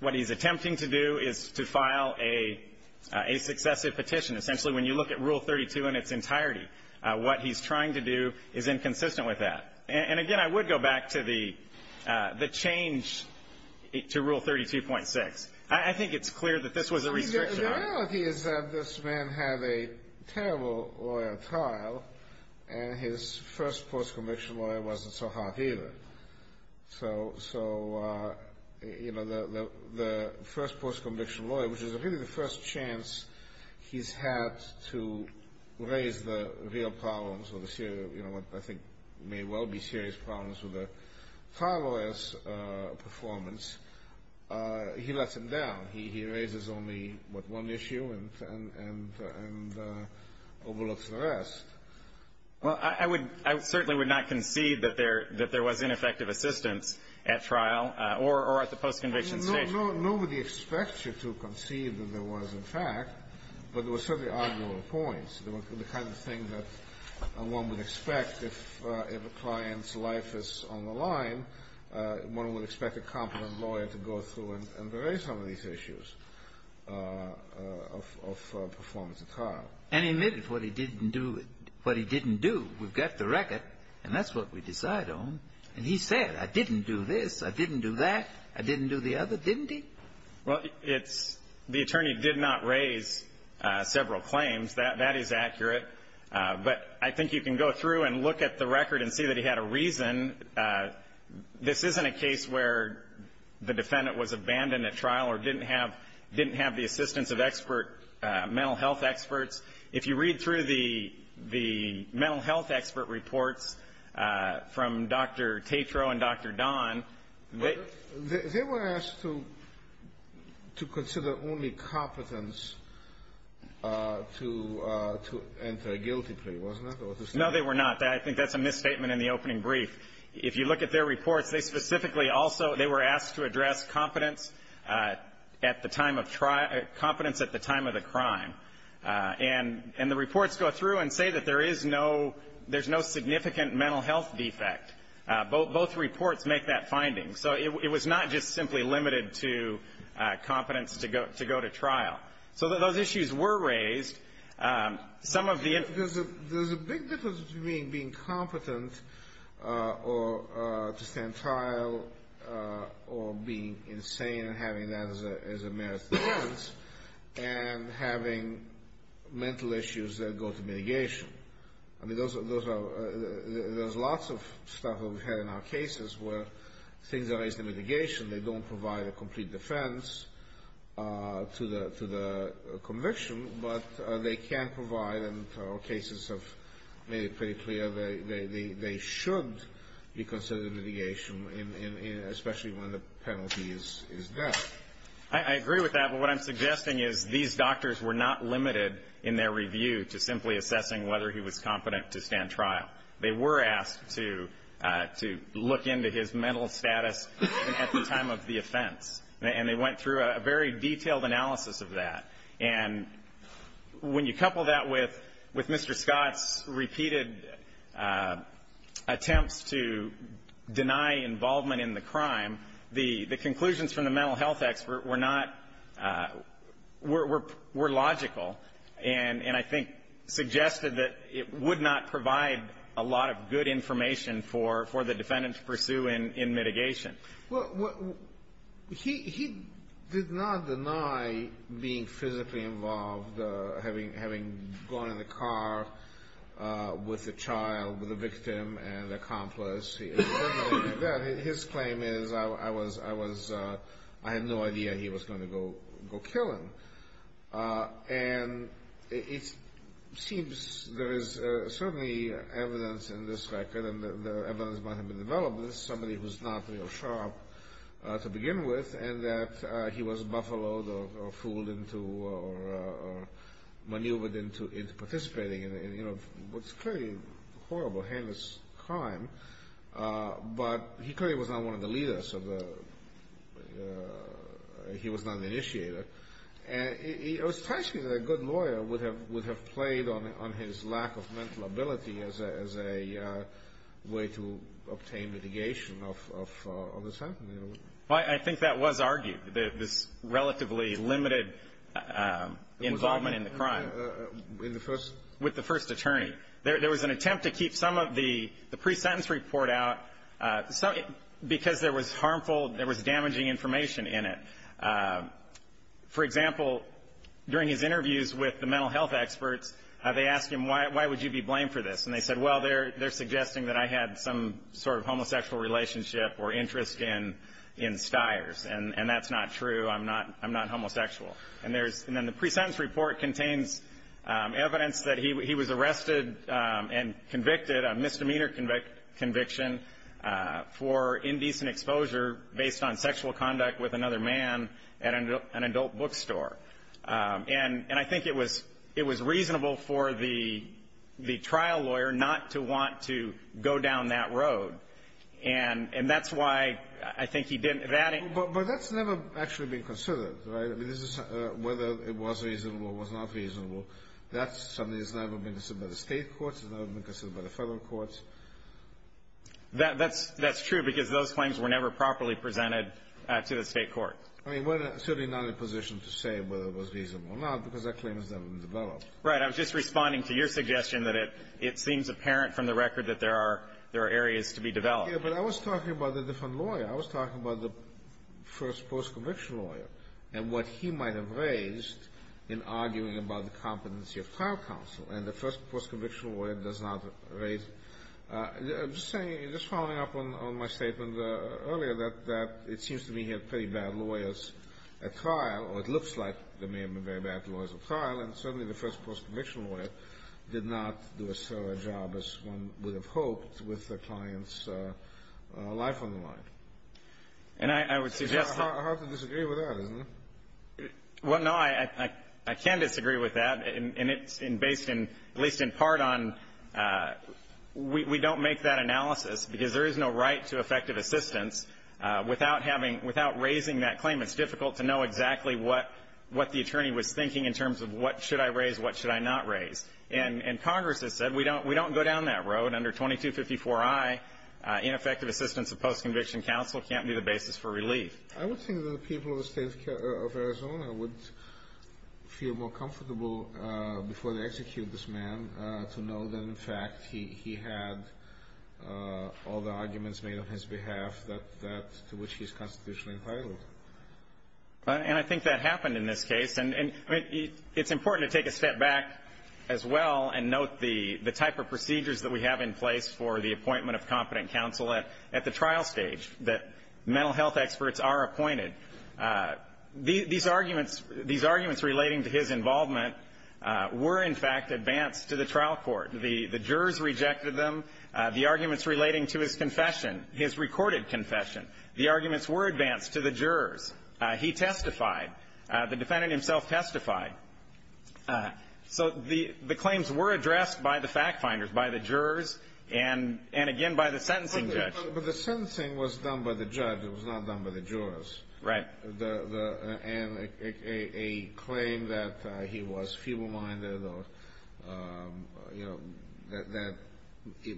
what he's attempting to do is to file a successive petition. Essentially, when you look at Rule 32 in its entirety, what he's trying to do is inconsistent with that. And again, I would go back to the change to Rule 32.6. I think it's clear that this was a restriction. The reality is that this man had a terrible lawyer trial, and his first post-conviction lawyer wasn't so hot either. So, you know, the first post-conviction lawyer, which is really the first chance he's had to raise the real problems or the serious, you know, what I think may well be serious problems with a trial lawyer's performance, he lets them down. He raises only, what, one issue and overlooks the rest. Well, I would ---- I certainly would not concede that there was ineffective assistance at trial or at the post-conviction stage. Nobody expects you to concede that there was, in fact, but there were certainly arguable points. There were the kind of things that one would expect if a client's life is on the line, one would expect a competent lawyer to go through and raise some of these issues of performance at trial. And he admitted what he didn't do. What he didn't do. We've got the record, and that's what we decide on. And he said, I didn't do this, I didn't do that, I didn't do the other, didn't he? Well, it's the attorney did not raise several claims. That is accurate. But I think you can go through and look at the record and see that he had a reason. This isn't a case where the defendant was abandoned at trial or didn't have the assistance of expert mental health experts. If you read through the mental health expert reports from Dr. Tatro and Dr. Don, they were asked to consider only competence to enter a guilty plea, wasn't it? No, they were not. I think that's a misstatement in the opening brief. If you look at their reports, they specifically also, they were asked to address competence at the time of trial, competence at the time of the crime. And the reports go through and say that there is no, there's no significant mental health defect. Both reports make that finding. So it was not just simply limited to competence to go to trial. Some of the --. There's a big difference between being competent or to stand trial or being insane and having that as a merits defense and having mental issues that go to mitigation. I mean, those are, there's lots of stuff that we've had in our cases where things are raised to mitigation. They don't provide a complete defense to the conviction, but they can provide in our cases of, made it pretty clear they should be considered mitigation, especially when the penalty is that. I agree with that. But what I'm suggesting is these doctors were not limited in their review to simply assessing whether he was competent to stand trial. They were asked to look into his mental status at the time of the offense. And they went through a very detailed analysis of that. And when you couple that with Mr. Scott's repeated attempts to deny involvement in the crime, the conclusions from the mental health expert were not, were logical and, I think, suggested that it would not provide a lot of good information for the defendant to pursue in mitigation. Well, he did not deny being physically involved, having gone in the car with a child, with a victim and accomplice. His claim is, I had no idea he was going to go kill him. And it seems there is certainly evidence in this record, and the evidence might have been developed, that this is somebody who's not real sharp to begin with, and that he was buffaloed or fooled into, or maneuvered into participating in what's clearly a horrible, heinous crime. But he clearly was not one of the leaders of the, he was not an initiator. And it was strange to me that a good lawyer would have played on his lack of mental ability as a way to obtain mitigation of this happening. Well, I think that was argued, this relatively limited involvement in the crime. With the first? With the first attorney. There was an attempt to keep some of the pre-sentence report out, because there was harmful, there was damaging information in it. For example, during his interviews with the mental health experts, they asked him, why would you be blamed for this? And they said, well, they're suggesting that I had some sort of homosexual relationship or interest in Stiers. And that's not true, I'm not homosexual. And then the pre-sentence report contains evidence that he was arrested and convicted, a misdemeanor conviction, for indecent exposure based on sexual conduct with another man at an adult bookstore. And I think it was reasonable for the trial lawyer not to want to go down that road. And that's why I think he didn't. But that's never actually been considered, right? Whether it was reasonable or was not reasonable, that's something that's never been considered by the state courts, it's never been considered by the federal courts. That's true, because those claims were never properly presented to the state courts. I mean, we're certainly not in a position to say whether it was reasonable or not, because that claim has never been developed. Right. I was just responding to your suggestion that it seems apparent from the record that there are areas to be developed. Yeah, but I was talking about a different lawyer. I was talking about the first post-conviction lawyer and what he might have raised in arguing about the competency of trial counsel. And the first post-conviction lawyer does not raise the same. You're just following up on my statement earlier that it seems to me he had pretty bad lawyers at trial, or it looks like there may have been very bad lawyers at trial, and certainly the first post-conviction lawyer did not do as thorough a job as one would have hoped with the client's life on the line. And I would suggest that — It's hard to disagree with that, isn't it? Well, no, I can disagree with that. And it's based in — at least in part on — we don't make that analysis, because there is no right to effective assistance without having — without raising that claim. It's difficult to know exactly what the attorney was thinking in terms of what should I raise, what should I not raise. And Congress has said we don't go down that road. Under 2254i, ineffective assistance of post-conviction counsel can't be the basis for relief. I would think that the people of the state of Arizona would feel more comfortable before they execute this man to know that, in fact, he had all the arguments made on his behalf that — to which he's constitutionally entitled. And I think that happened in this case. And it's important to take a step back as well and note the type of procedures that we have in place for the appointment of competent counsel at the trial stage, that mental health experts are appointed. These arguments — these arguments relating to his involvement were, in fact, advanced to the trial court. The jurors rejected them. The arguments relating to his confession, his recorded confession, the arguments were advanced to the jurors. He testified. The defendant himself testified. So the claims were addressed by the fact-finders, by the jurors, and again by the sentencing judge. But the sentencing was done by the judge. It was not done by the jurors. Right. And a claim that he was feeble-minded or, you know, that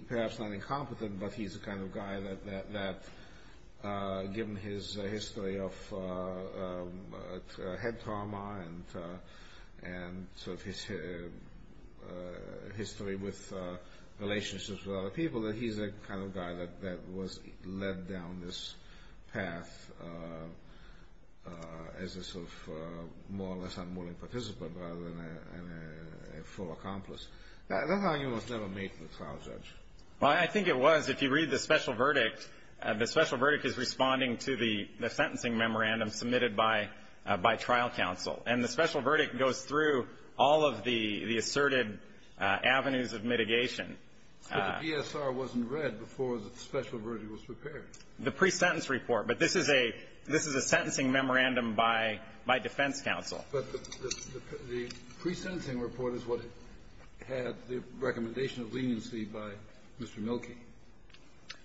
perhaps not incompetent, but he's the kind of guy that, given his history of head trauma and sort of history with relationships with other people, that he's the kind of guy that was led down this path as a sort of more or less unwilling participant rather than a full accomplice. That argument was never made to the trial judge. Well, I think it was. If you read the special verdict, the special verdict is responding to the sentencing memorandum submitted by trial counsel. And the special verdict goes through all of the asserted avenues of mitigation. But the DSR wasn't read before the special verdict was prepared. The pre-sentence report. But this is a sentencing memorandum by defense counsel. But the pre-sentencing report is what had the recommendation of leniency by Mr. Milkey.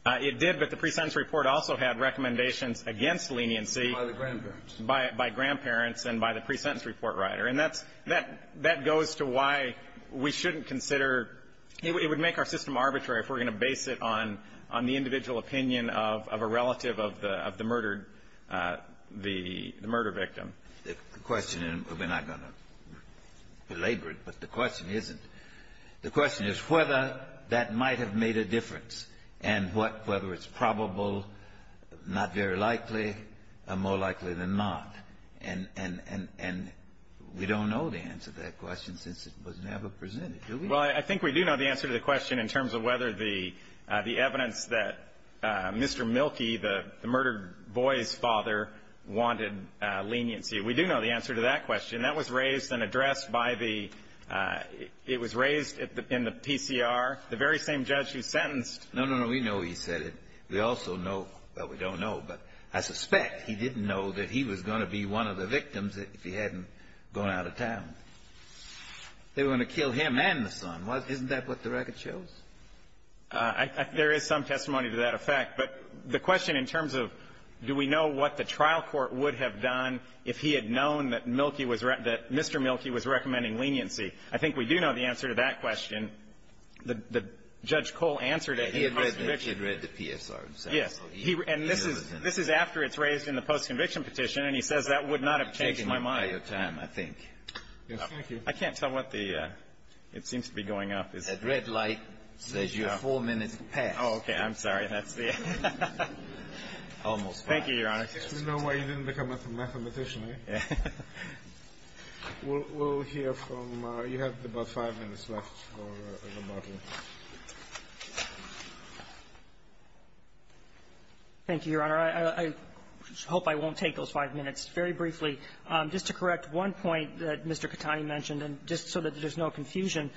It did, but the pre-sentence report also had recommendations against leniency. By the grandparents. By grandparents and by the pre-sentence report writer. And that's goes to why we shouldn't consider, it would make our system arbitrary if we're going to base it on the individual opinion of a relative of the murder victim. The question, and we're not going to belabor it, but the question isn't. The question is whether that might have made a difference, and whether it's probable, not very likely, more likely than not. And we don't know the answer to that question since it was never presented. Do we? Well, I think we do know the answer to the question in terms of whether the evidence that Mr. Milkey, the murdered boy's father, wanted leniency. We do know the answer to that question. That was raised and addressed by the – it was raised in the PCR, the very same judge who sentenced. No, no, no. We know he said it. We also know – well, we don't know, but I suspect he didn't know that he was going to be one of the victims if he hadn't gone out of town. They were going to kill him and the son. Isn't that what the record shows? There is some testimony to that effect. But the question in terms of do we know what the trial court would have done if he had known that Milkey was – that Mr. Milkey was recommending leniency. I think we do know the answer to that question. And the judge Cole answered it in the post-conviction. He had read the PSR. Yes. And this is after it's raised in the post-conviction petition, and he says that would not have changed my mind. You're taking up all your time, I think. Yes. Thank you. I can't tell what the – it seems to be going up. That red light says you have four minutes to pass. Oh, okay. I'm sorry. That's the – Almost five. Thank you, Your Honor. You know why you didn't become a mathematician, right? We'll hear from – you have about five minutes left. Thank you, Your Honor. I hope I won't take those five minutes. Very briefly, just to correct one point that Mr. Katani mentioned, and just so that there's no confusion,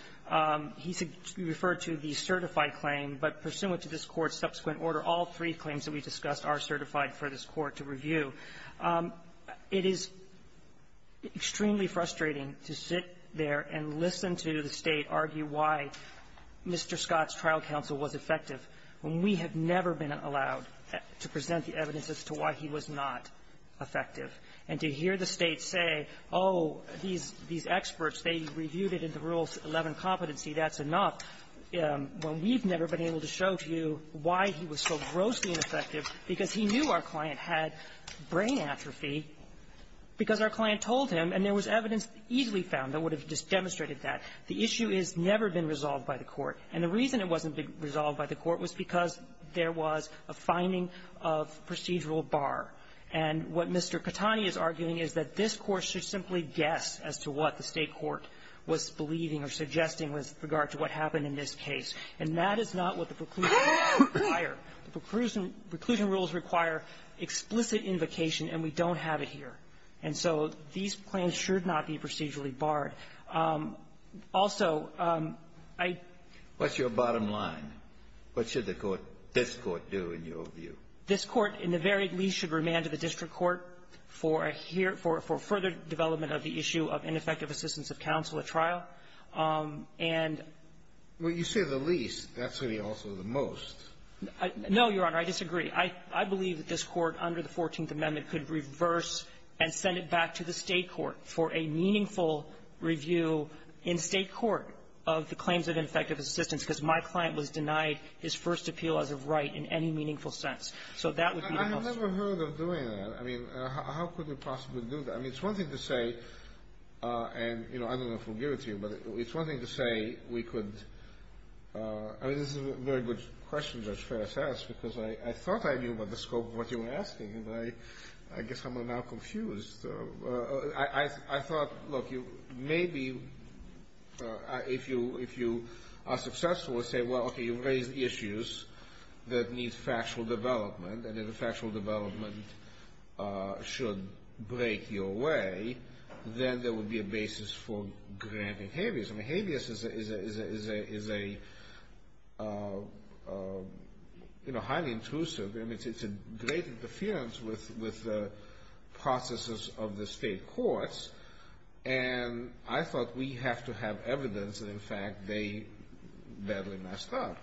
he referred to the certified claim, but pursuant to this Court's subsequent order, all three claims that we discussed are certified for this Court to review. It is extremely frustrating to sit there and listen to the State argue why Mr. Scott's trial counsel was effective when we have never been allowed to present the evidence as to why he was not effective, and to hear the State say, oh, these – these experts, they reviewed it in the Rule 11 competency, that's enough, when we've never been able to show to you why he was so grossly ineffective, because he knew our client had brain atrophy, because our client told him, and there was evidence easily found that would have demonstrated that. The issue has never been resolved by the Court. And the reason it wasn't resolved by the Court was because there was a finding of procedural bar. And what Mr. Katani is arguing is that this Court should simply guess as to what the State court was believing or suggesting with regard to what the preclusion rules require. The preclusion rules require explicit invocation, and we don't have it here. And so these claims should not be procedurally barred. Also, I — What's your bottom line? What should the Court, this Court, do in your view? This Court, in the very least, should remand to the district court for a here – for further development of the issue of ineffective assistance of counsel at trial. And — Well, you say the least. That's really also the most. No, Your Honor. I disagree. I believe that this Court under the Fourteenth Amendment could reverse and send it back to the State court for a meaningful review in State court of the claims of ineffective assistance, because my client was denied his first appeal as of right in any meaningful sense. So that would be the most — I have never heard of doing that. I mean, how could we possibly do that? I mean, it's one thing to say, and, you know, I don't know if we'll give it to you, but it's one thing to say we could — I mean, this is a very good question, Judge Ferris asked, because I thought I knew about the scope of what you were asking, and I guess I'm now confused. I thought, look, you may be — if you are successful and say, well, okay, you've raised issues that need factual development, and if the factual development should break your way, then there would be a basis for granting habeas. I mean, habeas is a, you know, highly intrusive, and it's a great interference with the processes of the State courts, and I thought we have to have evidence that, in fact, they badly messed up.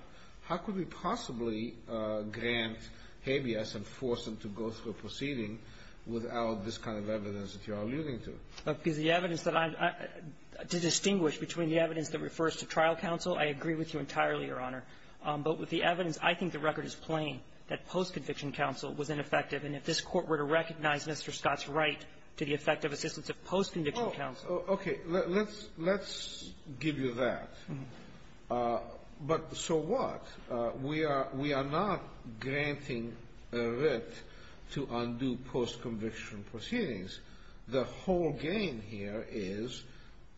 How could we possibly grant habeas and force them to go through a proceeding without this kind of evidence that you are alluding to? Because the evidence that I — to distinguish between the evidence that refers to trial counsel, I agree with you entirely, Your Honor. But with the evidence, I think the record is plain that post-conviction counsel was ineffective, and if this Court were to recognize Mr. Scott's right to the effective assistance of post-conviction counsel — Oh, okay. Let's — let's give you that. But so what? We are — we are not granting a writ to undo post-conviction proceedings. The whole game here is,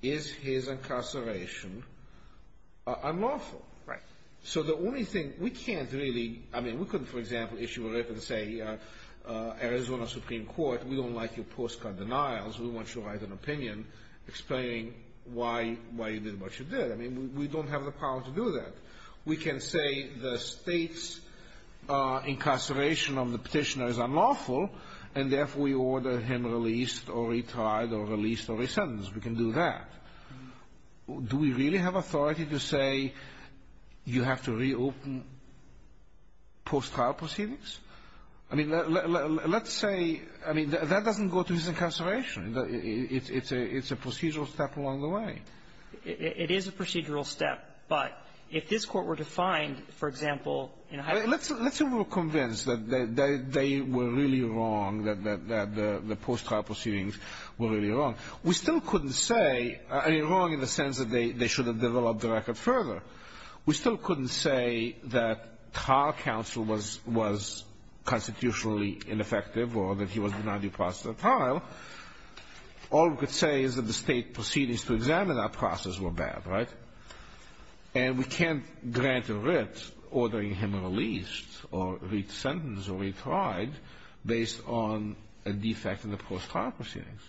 is his incarceration unlawful? Right. So the only thing — we can't really — I mean, we couldn't, for example, issue a writ and say, Arizona Supreme Court, we don't like your post-con denials. We want you to write an opinion explaining why — why you did what you did. I mean, we don't have the power to do that. We can say the State's incarceration of the petitioner is unlawful, and therefore we order him released or retired or released or re-sentenced. We can do that. Do we really have authority to say you have to reopen post-trial proceedings? I mean, let's say — I mean, that doesn't go to his incarceration. It's a — it's a procedural step along the way. It is a procedural step. But if this Court were to find, for example, in a high — I mean, let's — let's say we were convinced that they were really wrong, that the post-trial proceedings were really wrong. We still couldn't say — I mean, wrong in the sense that they should have developed the record further. We still couldn't say that trial counsel was constitutionally ineffective or that he was denied due process of trial. All we could say is that the State proceedings to examine that process were bad, right? And we can't grant a writ ordering him released or re-sentenced or retried based on a defect in the post-trial proceedings.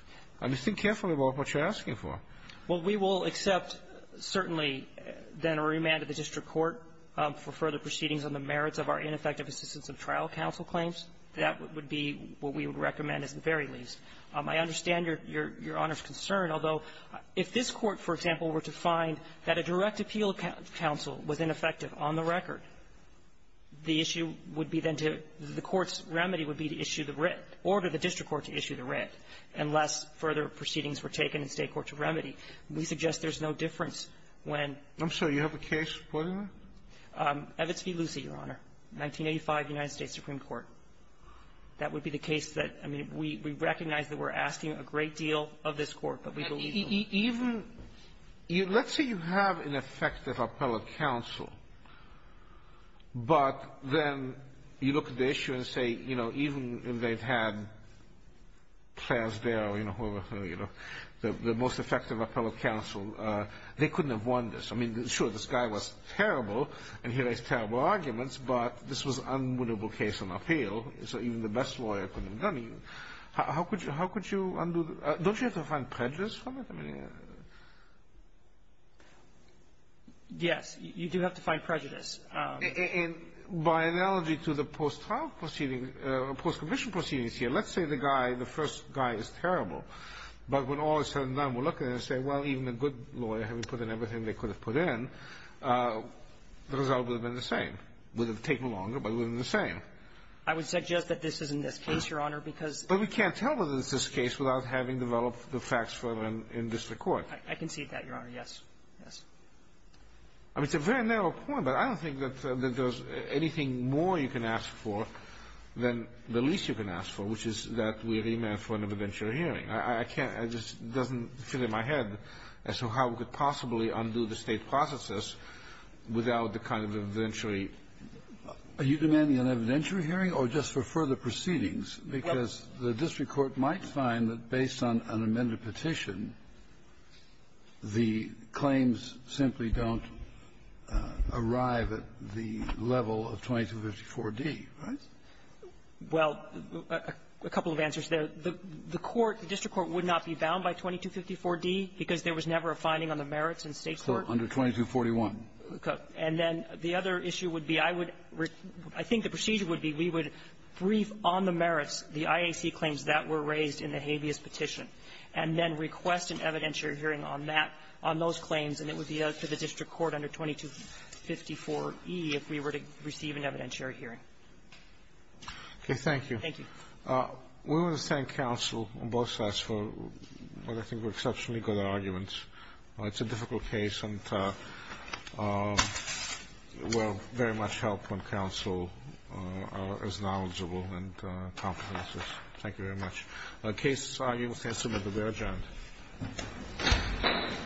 I mean, think carefully about what you're asking for. Well, we will accept, certainly, then a remand to the district court for further proceedings on the merits of our ineffective assistance of trial counsel claims. That would be what we would recommend at the very least. I understand your — your Honor's concern, although if this Court, for example, were to find that a direct appeal of counsel was ineffective on the record, the issue would be then to — the Court's remedy would be to issue the writ, order the district court to issue the writ, unless further proceedings were taken in State court to remedy. We suggest there's no difference when — I'm sorry. You have a case supporting that? Evitz v. Lucy, Your Honor, 1985, United States Supreme Court. That would be the case that — I mean, we — we recognize that we're asking a great deal of this Court, but we believe — Even — let's say you have an effective appellate counsel, but then you look at the issue and say, you know, even if they've had Klairsdale, you know, whoever, you know, the most effective appellate counsel, they couldn't have won this. I mean, sure, this guy was terrible, and he raised terrible arguments, but this was an unwinnable case on appeal, so even the best lawyer couldn't have done it. How could you undo the — don't you have to find prejudice from it? I mean — Yes. You do have to find prejudice. And by analogy to the post-trial proceeding, post-commission proceedings here, let's say the guy, the first guy is terrible, but when all is said and done, we look at it and say, well, even a good lawyer, having put in everything they could have put in, the result would have been the same. It would have taken longer, but it would have been the same. I would suggest that this is in this case, Your Honor, because — But we can't tell whether it's this case without having developed the facts for them in district court. I concede that, Your Honor. Yes. Yes. I mean, it's a very narrow point, but I don't think that there's anything more you can ask for than the least you can ask for, which is that we remand for an evidentiary hearing. I can't — it just doesn't fit in my head as to how we could possibly undo the State processes without the kind of evidentiary. Are you demanding an evidentiary hearing or just for further proceedings? Because the district court might find that based on an amended petition, the claims simply don't arrive at the level of 2254d, right? Well, a couple of answers there. The court, the district court, would not be bound by 2254d because there was never a finding on the merits in State court. Under 2241. Okay. And then the other issue would be, I would — I think the procedure would be we would brief on the merits, the IAC claims that were raised in the habeas petition, and then request an evidentiary hearing on that, on those claims. And it would be up to the district court under 2254e if we were to receive an evidentiary hearing. Okay. Thank you. Thank you. We want to thank counsel on both sides for what I think were exceptionally good arguments. It's a difficult case and will very much help when counsel is knowledgeable and competent. Thank you very much. The case is argued with the answer that we have adjourned.